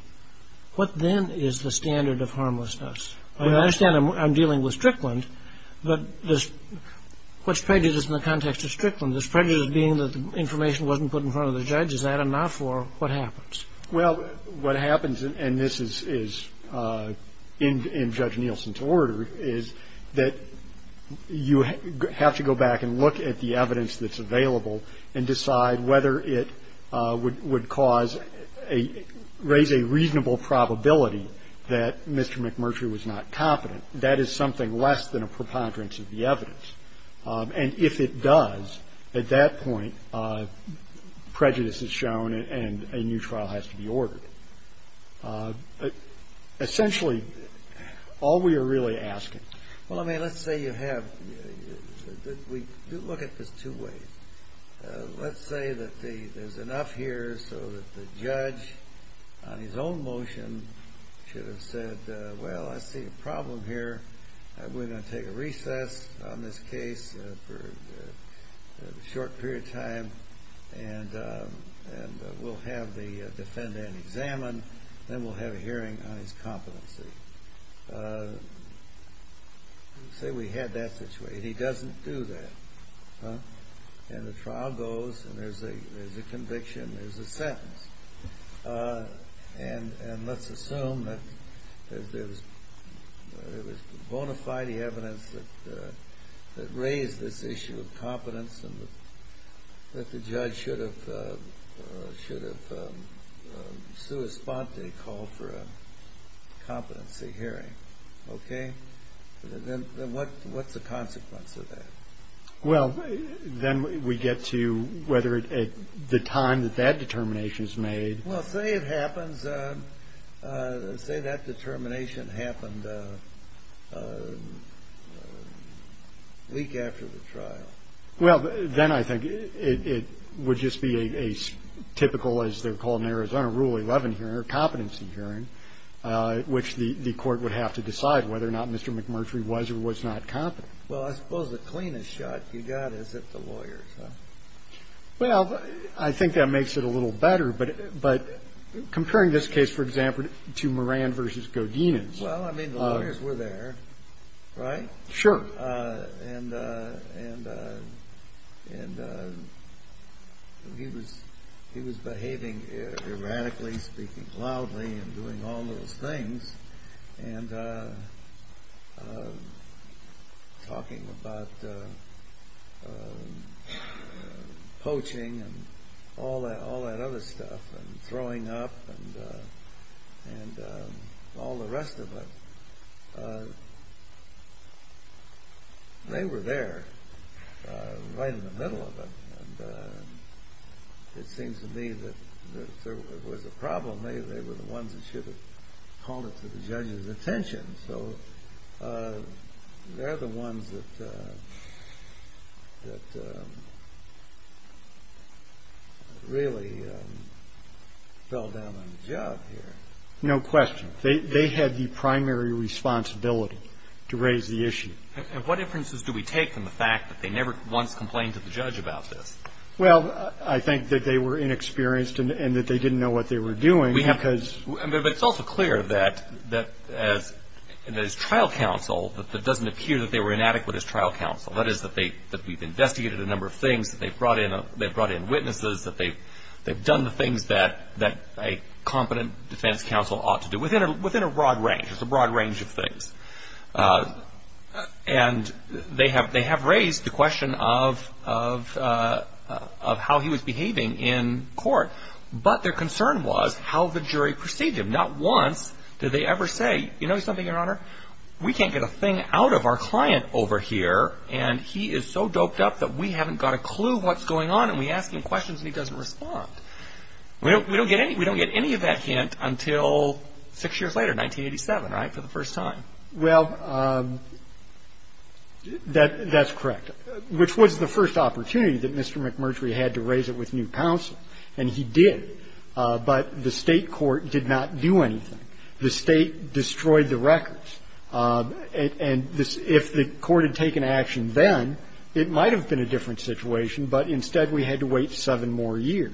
What then is the standard of harmlessness? I mean, I understand I'm dealing with Strickland, but what's prejudice in the context of Strickland? Is prejudice being that the information wasn't put in front of the judge? Is that enough, or what happens? Well, what happens, and this is in Judge Nielsen's order, is that you have to go back and look at the evidence that's available and decide whether it would cause, raise a reasonable probability that Mr. McMurtry was not competent. That is something less than a preponderance of the evidence. And if it does, at that point, prejudice is shown and a new trial has to be ordered. Essentially, all we are really asking. Well, I mean, let's say you have, we look at this two ways. Let's say that there's enough here so that the judge, on his own motion, should have said, well, I see a problem here, we're going to take a recess on this case for a short period of time, and we'll have the defendant examined, then we'll have a hearing on his competency. Let's say we had that situation. He doesn't do that, and the trial goes, and there's a conviction, there's a sentence, and let's assume that there's bona fide evidence that raised this issue of competence and that the judge should have, should have, a call for a competency hearing. Okay? Then what's the consequence of that? Well, then we get to whether at the time that that determination is made. Well, say it happens, say that determination happened a week after the trial. Well, then I think it would just be a typical, as they're calling it in Arizona, Rule 11 hearing, or competency hearing, which the court would have to decide whether or not Mr. McMurtry was or was not competent. Well, I suppose the cleanest shot you got is at the lawyers. Well, I think that makes it a little better, but comparing this case, for example, to Moran v. Godinez. Well, I mean, the lawyers were there, right? Sure. And he was behaving erratically, speaking loudly, and doing all those things, and talking about poaching, and all that other stuff, and throwing up, and all the rest of it. They were there, right in the middle of it. It seemed to me that if there was a problem, they were the ones that should have called it to the judge's attention. So they're the ones that really fell down on the job here. No question. They had the primary responsibility to raise the issue. What inferences do we take from the fact that they never once complained to the judge about this? Well, I think that they were inexperienced, and that they didn't know what they were doing. But it's also clear that as trial counsel, that it doesn't appear that they were inadequate as trial counsel. That is, that we've investigated a number of things, that they've brought in witnesses, that they've done the things that a competent defense counsel ought to do, within a broad range. It's a broad range of things. And they have raised the question of how he was behaving in court. But their concern was how the jury perceived him. Not once did they ever say, you know something, Your Honor? We can't get a thing out of our client over here, and he is so doped up that we haven't got a clue what's going on, and we ask him questions, and he doesn't respond. We don't get any of that hint until six years later, 1987, right? For the first time. Well, that's correct. Which was the first opportunity that Mr. McMurtry had to raise it with new counsel. And he did. But the state court did not do anything. The state destroyed the records. And if the court had taken action then, it might have been a different situation. But instead, we had to wait seven more years.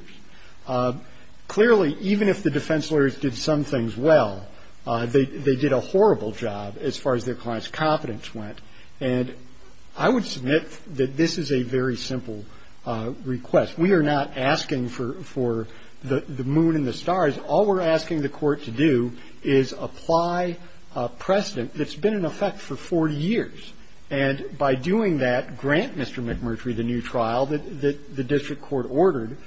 Clearly, even if the defense lawyers did some things well, they did a horrible job as far as their client's competence went. And I would submit that this is a very simple request. We are not asking for the moon and the stars. All we're asking the court to do is apply a precedent that's been in effect for 40 years. And by doing that, grant Mr. McMurtry the new trial that the district court ordered,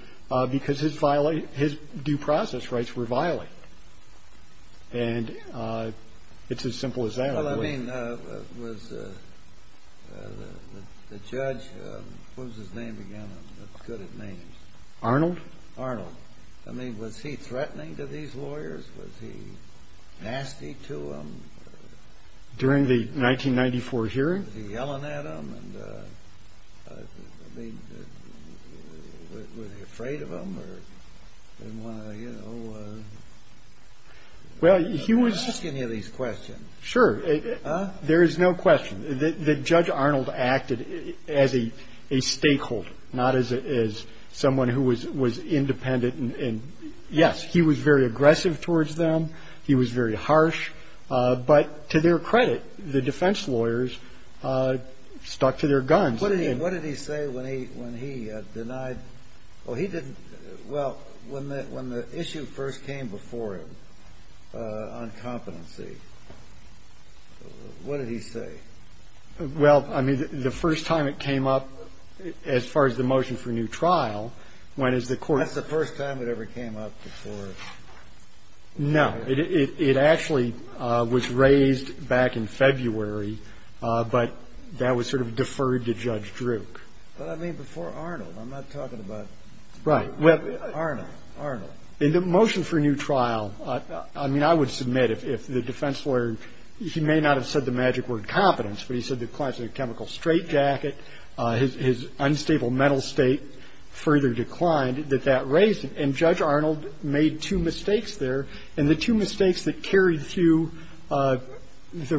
because his due process rights were violated. And it's as simple as that. Well, I mean, was the judge, what was his name again? What could it name? Arnold. Arnold. I mean, was he threatening to these lawyers? Was he nasty to them? During the 1994 hearing? Was he yelling at them? And I mean, was he afraid of them? Or didn't want to, you know? Well, he was... I'm asking you these questions. Sure. There is no question that Judge Arnold acted as a stakeholder, not as someone who was independent. And yes, he was very aggressive towards them. He was very harsh. But to their credit, the defense lawyers stuck to their guns. What did he say when he denied? Well, he didn't... Well, when the issue first came before him on competency, what did he say? Well, I mean, the first time it came up, as far as the motion for new trial, when is the court... That's the first time it ever came up before... No, it actually was raised back in February, but that was sort of deferred to Judge Druk. But I mean, before Arnold. I'm not talking about... Right. Well... Arnold, Arnold. In the motion for new trial, I mean, I would submit if the defense lawyer... He may not have said the magic word competence, but he said the client's in a chemical straitjacket, his unstable mental state further declined, that that raised him. And Judge Arnold made two mistakes there. And the two mistakes that carried through the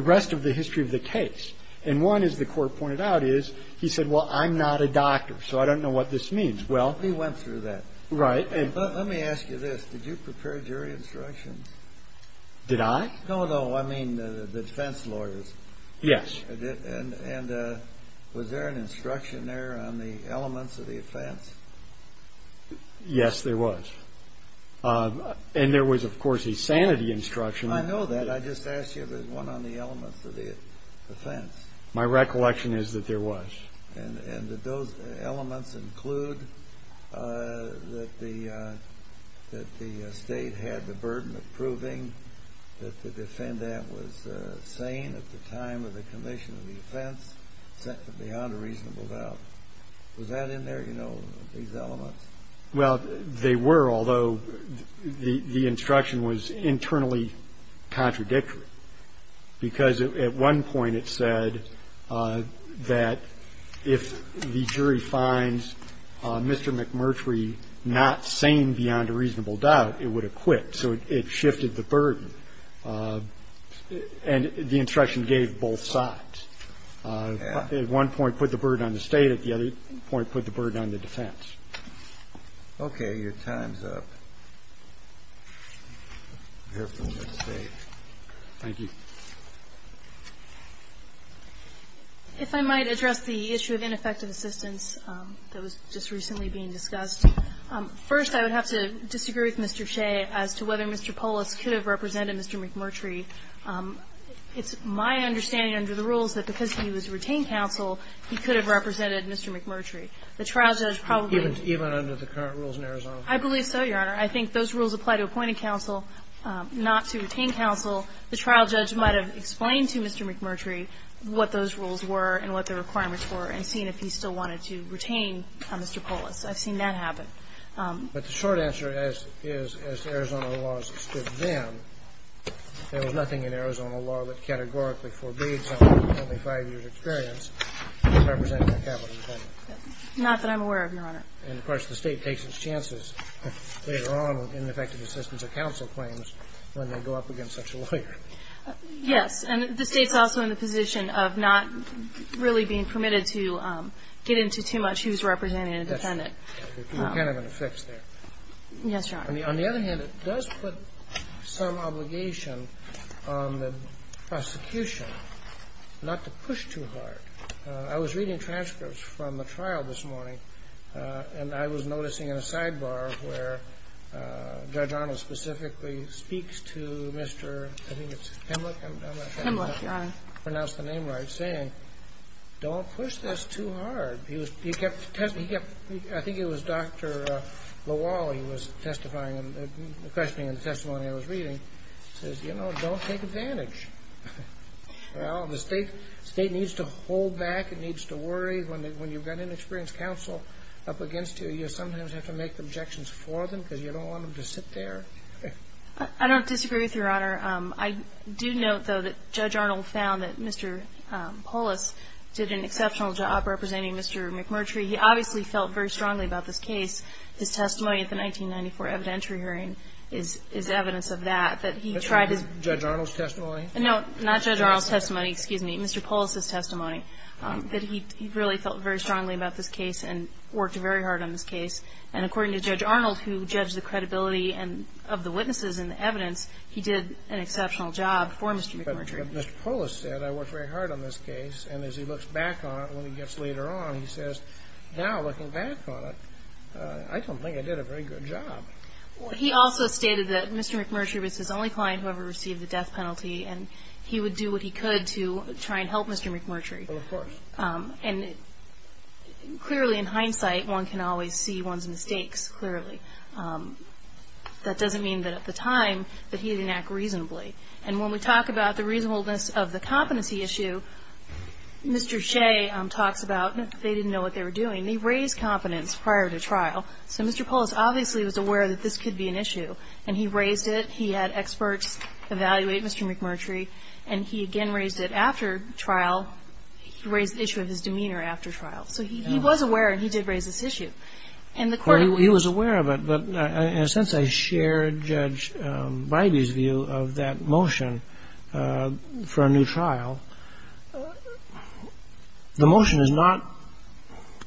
rest of the history of the case. And one, as the court pointed out, is he said, well, I'm not a doctor. So I don't know what this means. Well... He went through that. Right. But let me ask you this. Did you prepare jury instructions? Did I? No, no, I mean, the defense lawyers. Yes. And was there an instruction there on the elements of the offense? Yes, there was. And there was, of course, a sanity instruction. I know that. I just asked you if there was one on the elements of the offense. My recollection is that there was. And did those elements include that the state had the burden of proving that the defendant was sane at the time of the commission of defense, except for the unreasonable doubt? Was that in there, you know, these elements? Well, they were, although the instruction was internally contradictory. Because at one point it said that if the jury finds Mr. McMurtry not sane beyond a reasonable doubt, it would acquit. So it shifted the burden. And the instruction gave both sides. At one point, put the burden on the state. At the other point, put the burden on the defense. Okay. Your time's up. Thank you. If I might address the issue of ineffective assistance that was just recently being discussed. First, I would have to disagree with Mr. Shea as to whether Mr. Polis could have represented Mr. McMurtry. It's my understanding under the rules that because he was retained counsel, he could have represented Mr. McMurtry. The trial judge probably... Even under the current rules in Arizona? I believe so, Your Honor. I think those rules apply to appointed counsel, not to retained counsel. The trial judge might have explained to Mr. McMurtry what those rules were and what the requirements were and seen if he still wanted to retain Mr. Polis. I've seen that happen. But the short answer is, as Arizona laws stood then, there was nothing in Arizona law that categorically forbade someone with only five years' experience representing a capital defendant. Not that I'm aware of, Your Honor. And, of course, the state takes its chances later on with ineffective assistance of counsel claims when they go up against such a lawyer. Yes, and the state's also in the position of not really being permitted to get into too much who's representing a defendant. You're kind of in a fix there. Yes, Your Honor. On the other hand, it does put some obligation on the prosecution not to push too hard. I was reading transcripts from the trial this morning, and I was noticing in a sidebar where Judge Arnold specifically speaks to Mr. Pimlick, I think it's Pimlick, I'm not sure how to pronounce the name right, saying, don't push this too hard. I think it was Dr. Lawal, he was testifying, questioning the testimony I was reading, says, you know, don't take advantage. Well, the state needs to hold back, it needs to worry. When you've got an inexperienced counsel up against you, you sometimes have to make objections for them because you don't want them to sit there. I don't disagree with you, Your Honor. I do note, though, that Judge Arnold found that Mr. Polis did an exceptional job representing Mr. McMurtry. He obviously felt very strongly about this case. His testimony at the 1994 evidentiary hearing is evidence of that, that he tried to Judge Arnold's testimony? No, not Judge Arnold's testimony, excuse me, Mr. Polis' testimony, that he really felt very strongly about this case and worked very hard on this case. And according to Judge Arnold, who judged the credibility of the witnesses and the evidence, he did an exceptional job for Mr. McMurtry. Mr. Polis said, I worked very hard on this case, and as he looks back on it when he gets later on, he says, now looking back on it, I don't think I did a very good job. He also stated that Mr. McMurtry was his only client who ever received the death penalty, and he would do what he could to try and help Mr. McMurtry. And clearly, in hindsight, one can always see one's mistakes clearly. That doesn't mean that at the time that he didn't act reasonably. And when we talk about the reasonableness of the competency issue, Mr. Shea talks about they didn't know what they were doing. They raised competence prior to trial. So Mr. Polis obviously was aware that this could be an issue. And he raised it. He had experts evaluate Mr. McMurtry. And he again raised it after trial, raised the issue of his demeanor after trial. So he was aware he did raise this issue. And the court— He was aware of it. But in a sense, I share Judge Bybee's view of that motion for a new trial. The motion is not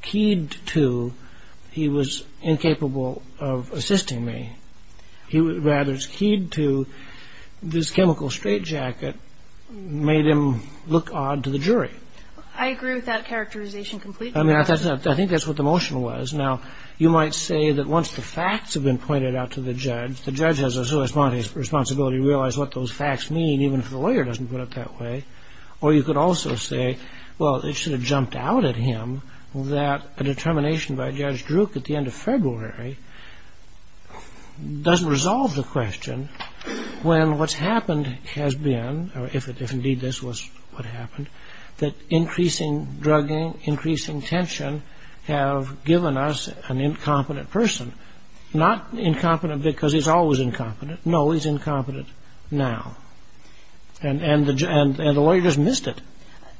keyed to he was incapable of assisting me. Rather, it's keyed to this chemical straitjacket made him look odd to the jury. I agree with that characterization completely. I mean, I think that's what the motion was. Now, you might say that once the facts have been pointed out to the judge, the judge has a sui sante responsibility to realize what those facts mean, even if the lawyer doesn't put it that way. Or you could also say, well, it should have jumped out at him that the determination by Judge Druk at the end of February doesn't resolve the question when what's happened has been, or if indeed this was what happened, that increasing drugging, increasing tension have given us an incompetent person. Not incompetent because he's always incompetent. No, he's incompetent now. And the lawyer just missed it.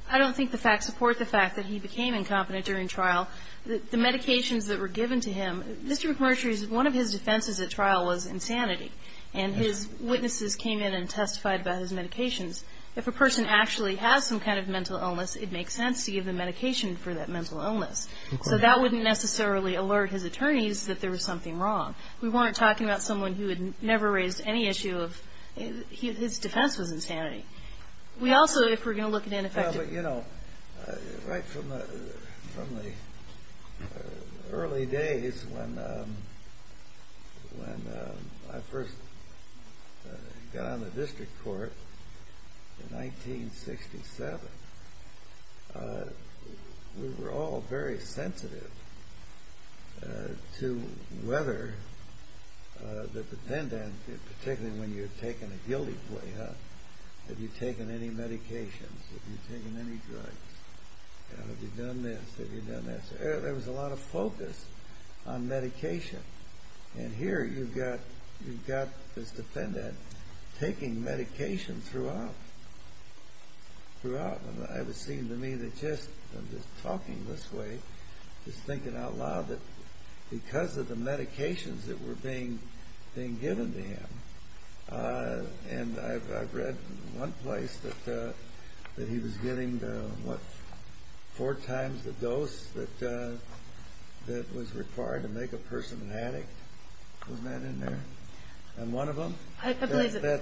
I don't think the facts support the fact that he became incompetent during trial. The medications that were given to him, Mr. Mercer's, one of his defenses at trial was insanity. And his witnesses came in and testified about his medications. If a person actually has some kind of mental illness, it makes sense to give them medication for that mental illness. So that wouldn't necessarily alert his attorneys that there was something wrong. We weren't talking about someone who would never raise any issue of his defense of insanity. We also, if we're going to look at ineffective... You know, right from the early days when I first got on the district court in 1967, we were all very sensitive to whether the defendant, particularly when you're taking a guilty plea, have you taken any medications? Have you taken any drugs? Have you done this? Have you done that? So there was a lot of focus on medication. And here you've got the defendant taking medication throughout. Throughout. And it seemed to me that just from just talking this way, just thinking out loud that because of the medications that were being given to him, and I've read one place that he was getting, what, four times the dose that was required to make a person an addict. Was that in there? And one of them? That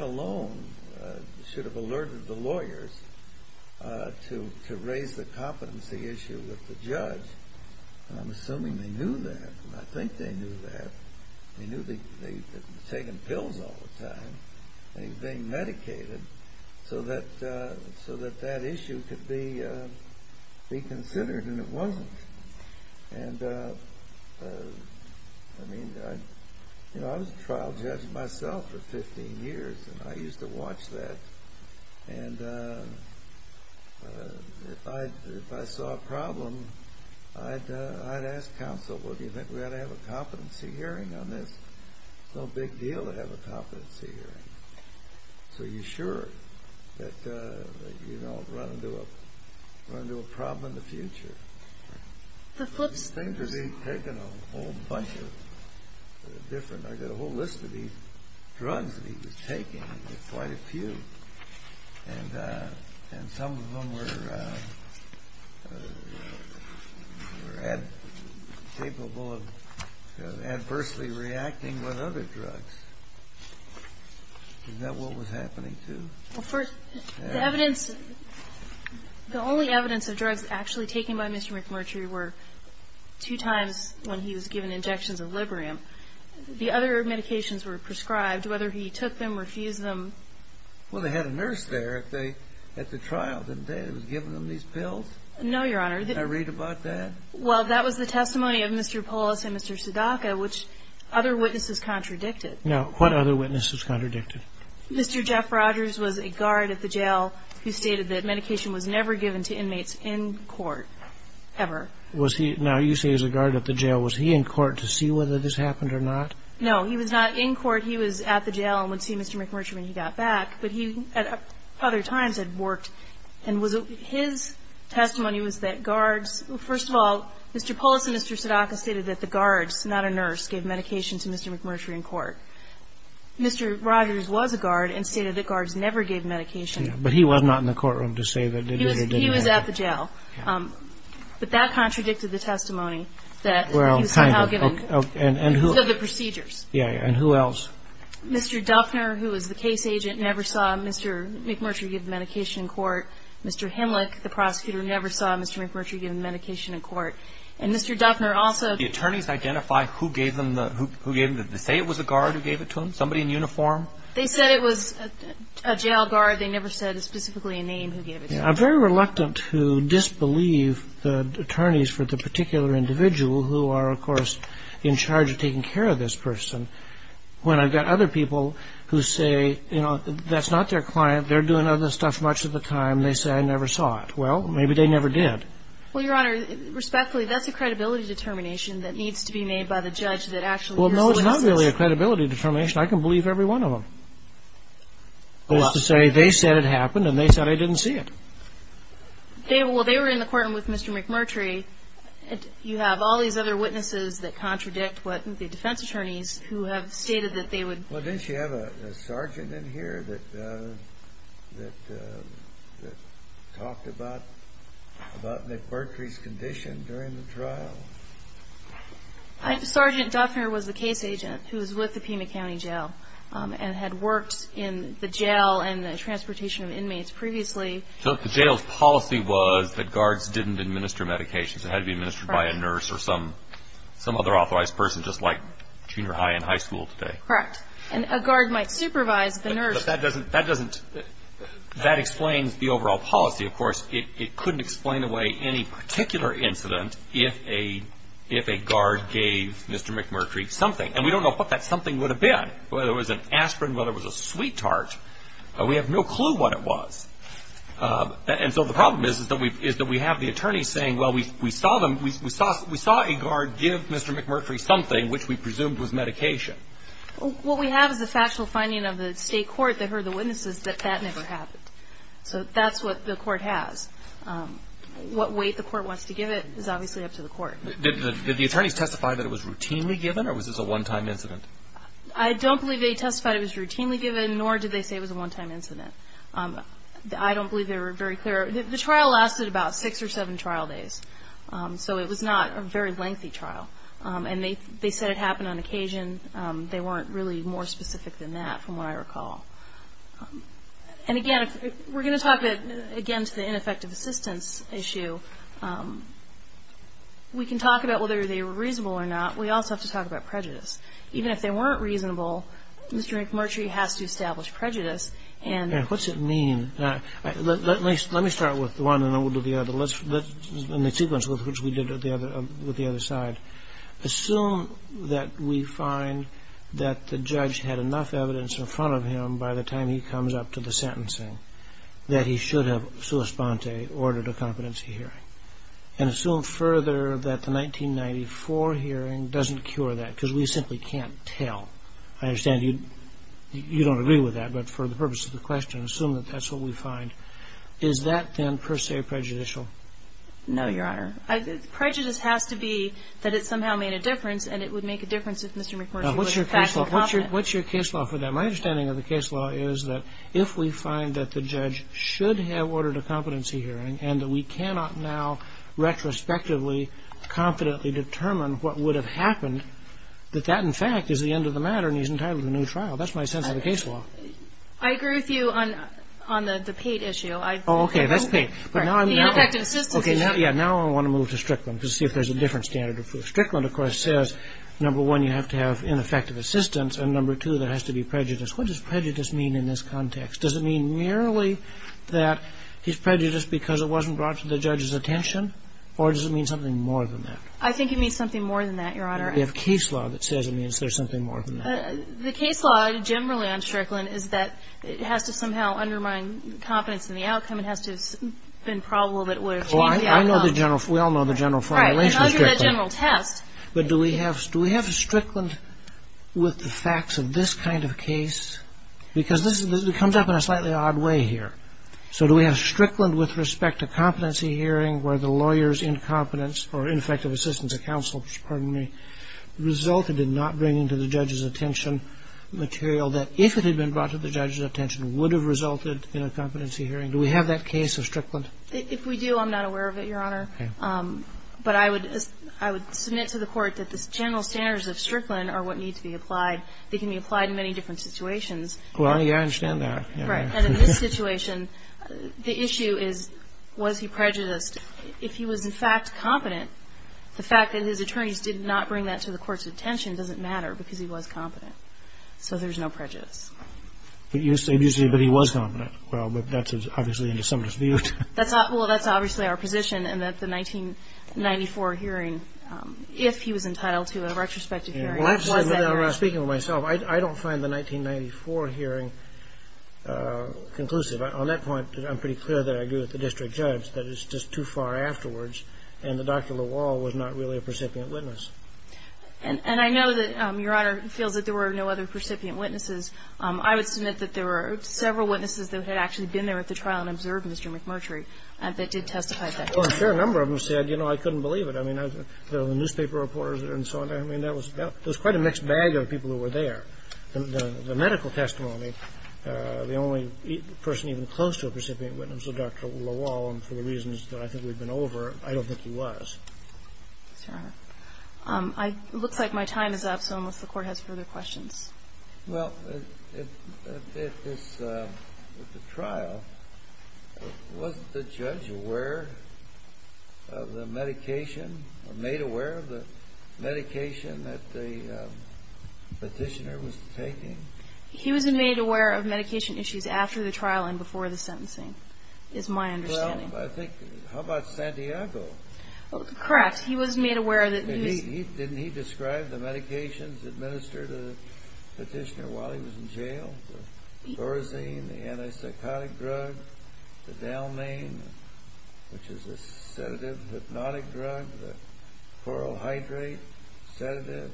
alone should have alerted the lawyers to raise the competency issue with the judge. And I'm assuming they knew that. I think they knew that. They knew that he was taking pills all the time. And he was being medicated so that that issue could be considered. And it wasn't. And I mean, I was a trial judge myself for 15 years, and I used to watch that. And if I saw a problem, I'd ask counsel, wouldn't you think we ought to have a competency hearing? I mean, it's no big deal to have a competency hearing. So you're sure that you don't run into a problem in the future. Things are being taken a whole bunch of different. I've got a whole list of these drugs that he was taking. There's quite a few. And some of them were capable of adversely reacting with other drugs. Is that what was happening too? Well, first, the only evidence of drugs actually taken by Mr. McMurtry were two times when he was given injections of Librium. The other medications were prescribed, whether he took them or refused them. Well, they had a nurse there at the trial, didn't they? Who was giving them these pills? No, Your Honor. I read about that. Well, that was the testimony of Mr. Polis and Mr. Sadaka, which other witnesses contradicted. Now, what other witnesses contradicted? Mr. Jeff Rogers was a guard at the jail who stated that medication was never given to inmates in court ever. Was he? Now, you say he was a guard at the jail. Was he in court to see whether this happened or not? No, he was not in court. He was at the jail and went to see Mr. McMurtry when he got back. But he, at other times, had worked. And his testimony was that guards... First of all, Mr. Polis and Mr. Sadaka stated that the guards, not a nurse, gave medication to Mr. McMurtry in court. Mr. Rogers was a guard and stated that guards never gave medication. But he was not in the courtroom to say that they did or didn't. He was at the jail. But that contradicted the testimony that he was somehow given the procedures. Yeah, and who else? Mr. Duffner, who was the case agent, never saw Mr. McMurtry given medication in court. Mr. Henlick, the prosecutor, never saw Mr. McMurtry given medication in court. And Mr. Duffner also... The attorneys identified who gave them the... Did they say it was a guard who gave it to him? Somebody in uniform? They said it was a jail guard. They never said specifically a name who gave it to him. I'm very reluctant to disbelieve the attorneys for the particular individual who are, of course, in charge of taking care of this person, when I've got other people who say, you know, that's not their client. They're doing other stuff much of the time. They say, I never saw it. Well, maybe they never did. Well, Your Honor, respectfully, that's a credibility determination that needs to be made by the judge that actually... Well, no, it's not really a credibility determination. I can believe every one of them. That is to say, they said it happened and they said I didn't see it. Well, they were in the courtroom with Mr. McMurtry. And you have all these other witnesses that contradict what the defense attorneys who have stated that they would... Well, didn't you have a sergeant in here that talked about about McMurtry's condition during the trial? Sergeant Duffner was the case agent who was with the Pima County Jail and had worked in the jail and the transportation of inmates previously. So the jail's policy was that guards didn't administer medications. It had to be administered by a nurse or some other authorized person, just like junior high and high school today. Correct. And a guard might supervise the nurse. But that explains the overall policy, of course. It couldn't explain away any particular incident if a guard gave Mr. McMurtry something. And we don't know what that something would have been, whether it was an aspirin, whether it was a sweet tart. We have no clue what it was. And so the problem is that we have the attorneys saying, well, we saw a guard give Mr. McMurtry something which we presumed was medication. What we have is a factual finding of the state court that heard the witnesses that that never happened. So that's what the court has. What weight the court wants to give it is obviously up to the court. Did the attorneys testify that it was routinely given or was this a one-time incident? I don't believe they testified it was routinely given, nor did they say it was a one-time incident. I don't believe they were very clear. The trial lasted about six or seven trial days. So it was not a very lengthy trial. And they said it happened on occasion. They weren't really more specific than that, from what I recall. And again, we're going to talk, again, to the ineffective assistance issue. We can talk about whether they were reasonable or not. We also have to talk about prejudice. Even if they weren't reasonable, Mr. McMurtry has to establish prejudice. What's it mean? Let me start with one and then we'll do the other. Let's, in the sequence which we did with the other side, assume that we find that the judge had enough evidence in front of him by the time he comes up to the sentencing that he should have sua sponte, ordered a competency hearing. And assume further that the 1994 hearing doesn't cure that because we simply can't tell. I understand you don't agree with that. But for the purpose of the question, assume that that's what we find. Is that then, per se, prejudicial? No, Your Honor. Prejudice has to be that it somehow made a difference and it would make a difference if Mr. McMurtry was in fact more competent. What's your case law for that? My understanding of the case law is that if we find that the judge should have ordered a competency hearing and we cannot now retrospectively, confidently determine what would have happened, that that, in fact, is the end of the matter and he's entitled to a new trial. That's my sense of the case law. I agree with you on the Pate issue. Oh, okay, that's Pate. The ineffective assistance issue. Okay, now I want to move to Strickland to see if there's a different standard of proof. Strickland, of course, says, number one, you have to have ineffective assistance and number two, there has to be prejudice. What does prejudice mean in this context? Does it mean merely that he's prejudiced because it wasn't brought to the judge's attention? Or does it mean something more than that? I think it means something more than that, Your Honor. You have case law that says there's something more than that. The case law, generally on Strickland, is that it has to somehow undermine confidence in the outcome. It has to have been probable that it would have changed the outcome. Oh, I know the general... We all know the general formulation of Strickland. Right, under the general test. But do we have Strickland with the facts of this kind of case? Because this comes up in a slightly odd way here. So do we have Strickland with respect to competency hearing where the lawyer's incompetence or ineffective assistance of counsel, pardon me, resulted in not bringing to the judge's attention material that if it had been brought to the judge's attention would have resulted in a competency hearing? Do we have that case of Strickland? If we do, I'm not aware of it, Your Honor. But I would submit to the court that the general standards of Strickland are what needs to be applied. They can be applied in many different situations. Well, I understand that. Right, and in this situation, the issue is was he prejudiced? If he was, in fact, competent, the fact that his attorneys did not bring that to the court's attention doesn't matter because he was competent. So there's no prejudice. But he was competent. Well, but that's obviously in the summer's view. Well, that's obviously our position, and that's the 1994 hearing, if he was entitled to a retrospective hearing. Well, actually, when I'm speaking to myself, I don't find the 1994 hearing conclusive. On that point, I'm pretty clear that I agree with the district judge that it's just too far afterwards, and that Dr. Lawal was not really a recipient witness. And I know that, Your Honor, feels that there were no other recipient witnesses. I would submit that there were several witnesses that had actually been there at the trial and observed Mr. McMurtry that did testify to that. Well, a fair number of them said, you know, I couldn't believe it. I mean, the newspaper reporters and so on, I mean, that was quite a mixed bag of people who were there. The medical testimony, the only person even close to a recipient witness was Dr. Lawal, and for the reasons that I think we've been over, I don't think he was. Your Honor, it looks like my time is up, so I don't know if the Court has further questions. Well, at the trial, was the judge aware of the medication, or made aware of the medication that the petitioner was taking? He was made aware of medication issues after the trial and before the sentencing. Is my understanding. Well, I think, how about Santiago? Correct, he was made aware that he... Didn't he describe the medications administered to the petitioner while he was in jail? The Thorazine, the antipsychotic drug, the Dalmane, which is a sedative hypnotic drug, the chlorhydrate sedative,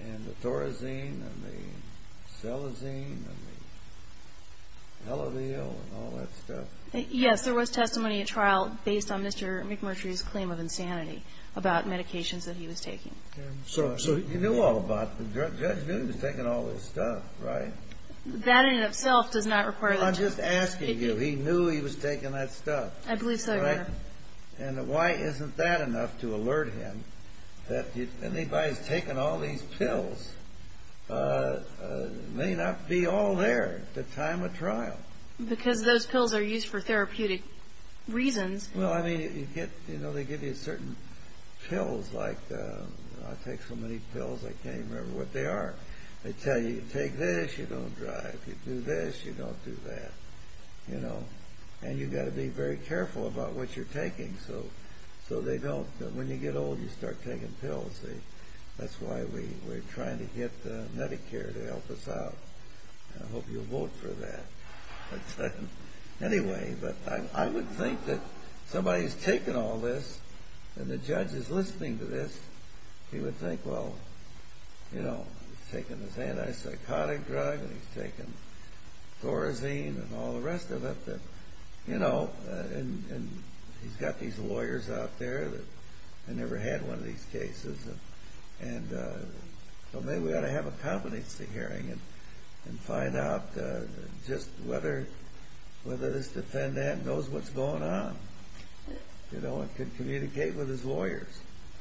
and the Thorazine, and the Stelazine, and the LLVL, and all that stuff. Yes, there was testimony at trial based on Mr. McMurtry's claim of insanity about medications that he was taking. So you knew all about the drug. Judge knew he was taking all this stuff, right? That in itself does not require... I'm just asking you. He knew he was taking that stuff. I believe so, Your Honor. And why isn't that enough to alert him that if anybody's taking all these pills, it may not be all there at the time of trial. Because those pills are used for therapeutic reasons. Well, I mean, you get... You know, they give you certain pills like... I take so many pills, I can't even remember what they are. They tell you, you take this, you don't die. You do this, you don't do that, you know. And you've got to be very careful about what you're taking, so they don't... When you get old, you start taking pills. That's why we're trying to get Medicare to help us out. I hope you'll vote for that. Anyway, but I would think that somebody's taking all this and the judge is listening to this. He would think, well, you know, he's taking this anti-psychotic drug, and he's taking Thorazine and all the rest of it. You know, and he's got these lawyers out there that never had one of these cases. And so maybe we ought to have a competency hearing and find out just whether this defendant knows what's going on. You know, and can communicate with his lawyers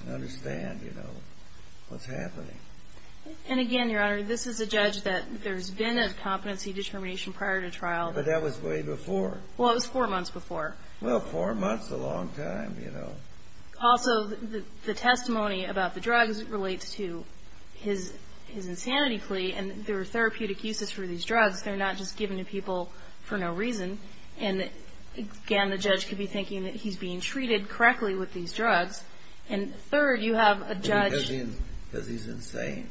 and understand, you know, what's happening. And again, Your Honor, this is the judge that there's been a competency discrimination prior to trial. But that was way before. Well, it was four months before. Well, four months is a long time, you know. Also, the testimony about the drugs relates to his insanity plea. And there were therapeutic uses for these drugs. They're not just given to people for no reason. And again, the judge could be thinking that he's being treated correctly with these drugs. And third, you have a judge. Does he mean that he's insane?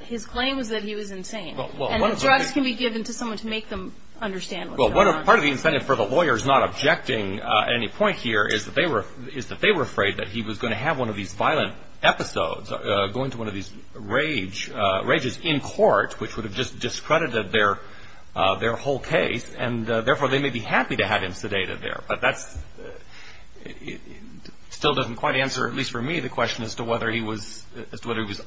His claim was that he was insane. And the drugs can be given to someone to make them understand what's going on. Well, part of the incentive for the lawyers not objecting any point here is that they were afraid that he was going to have one of these violent episodes, go into one of these rages in court, which would have just discredited their whole case. And therefore, they may be happy to have him sedated there. But that still doesn't quite answer, at least for me, the question as to whether he was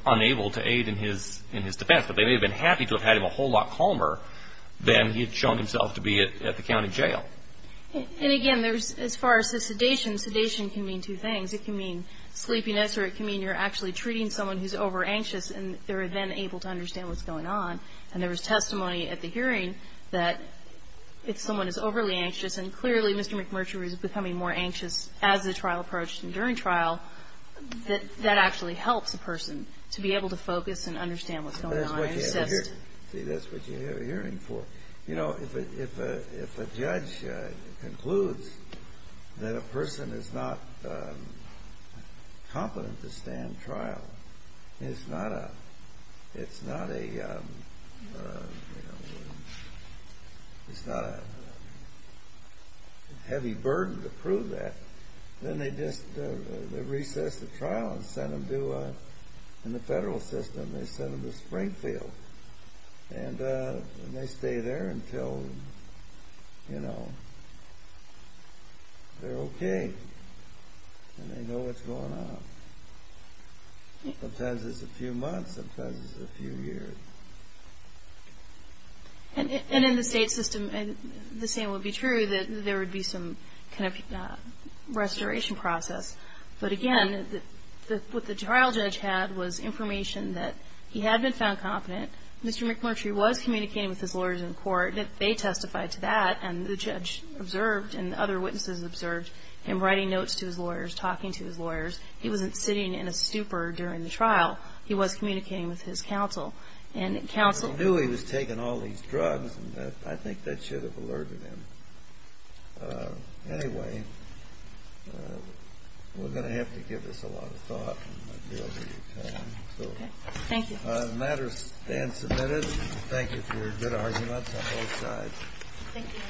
unable to aid in his defense. But they may have been happy to have had him a whole lot calmer than he had shown himself to be at the county jail. And again, as far as the sedation, sedation can mean two things. It can mean sleeping extra. It can mean you're actually treating someone who's over-anxious, and they're then able to understand what's going on. And there was testimony at the hearing that if someone is overly anxious, and clearly Mr. McMurtry was becoming more anxious as the trial approached and during trial, that actually helps the person to be able to focus and understand what's going on. That's what you have a hearing for. You know, if a judge concludes that a person is not competent to stand trial, and it's not a heavy burden to prove that, then they just recess the trial and send them to, in the federal system, they send them to Springfield. And they stay there until, you know, they're okay, and they know what's going on. Sometimes it's a few months, sometimes it's a few years. And in the state system, the same would be true, that there would be some kind of restoration process. But again, what the trial judge had was information that he had been found competent. Mr. McMurtry was communicating with his lawyers in court. They testified to that. And the judge observed, and other witnesses observed, him writing notes to his lawyers, talking to his lawyers. He wasn't sitting in a stupor during the trial. He was communicating with his counsel. And counsel knew he was taking all these drugs, and I think that should have alerted him. Anyway, we're going to have to give this a lot of thought. Okay, thank you. All right, the matter stands submitted. Thank you for a good argument on both sides. Thank you.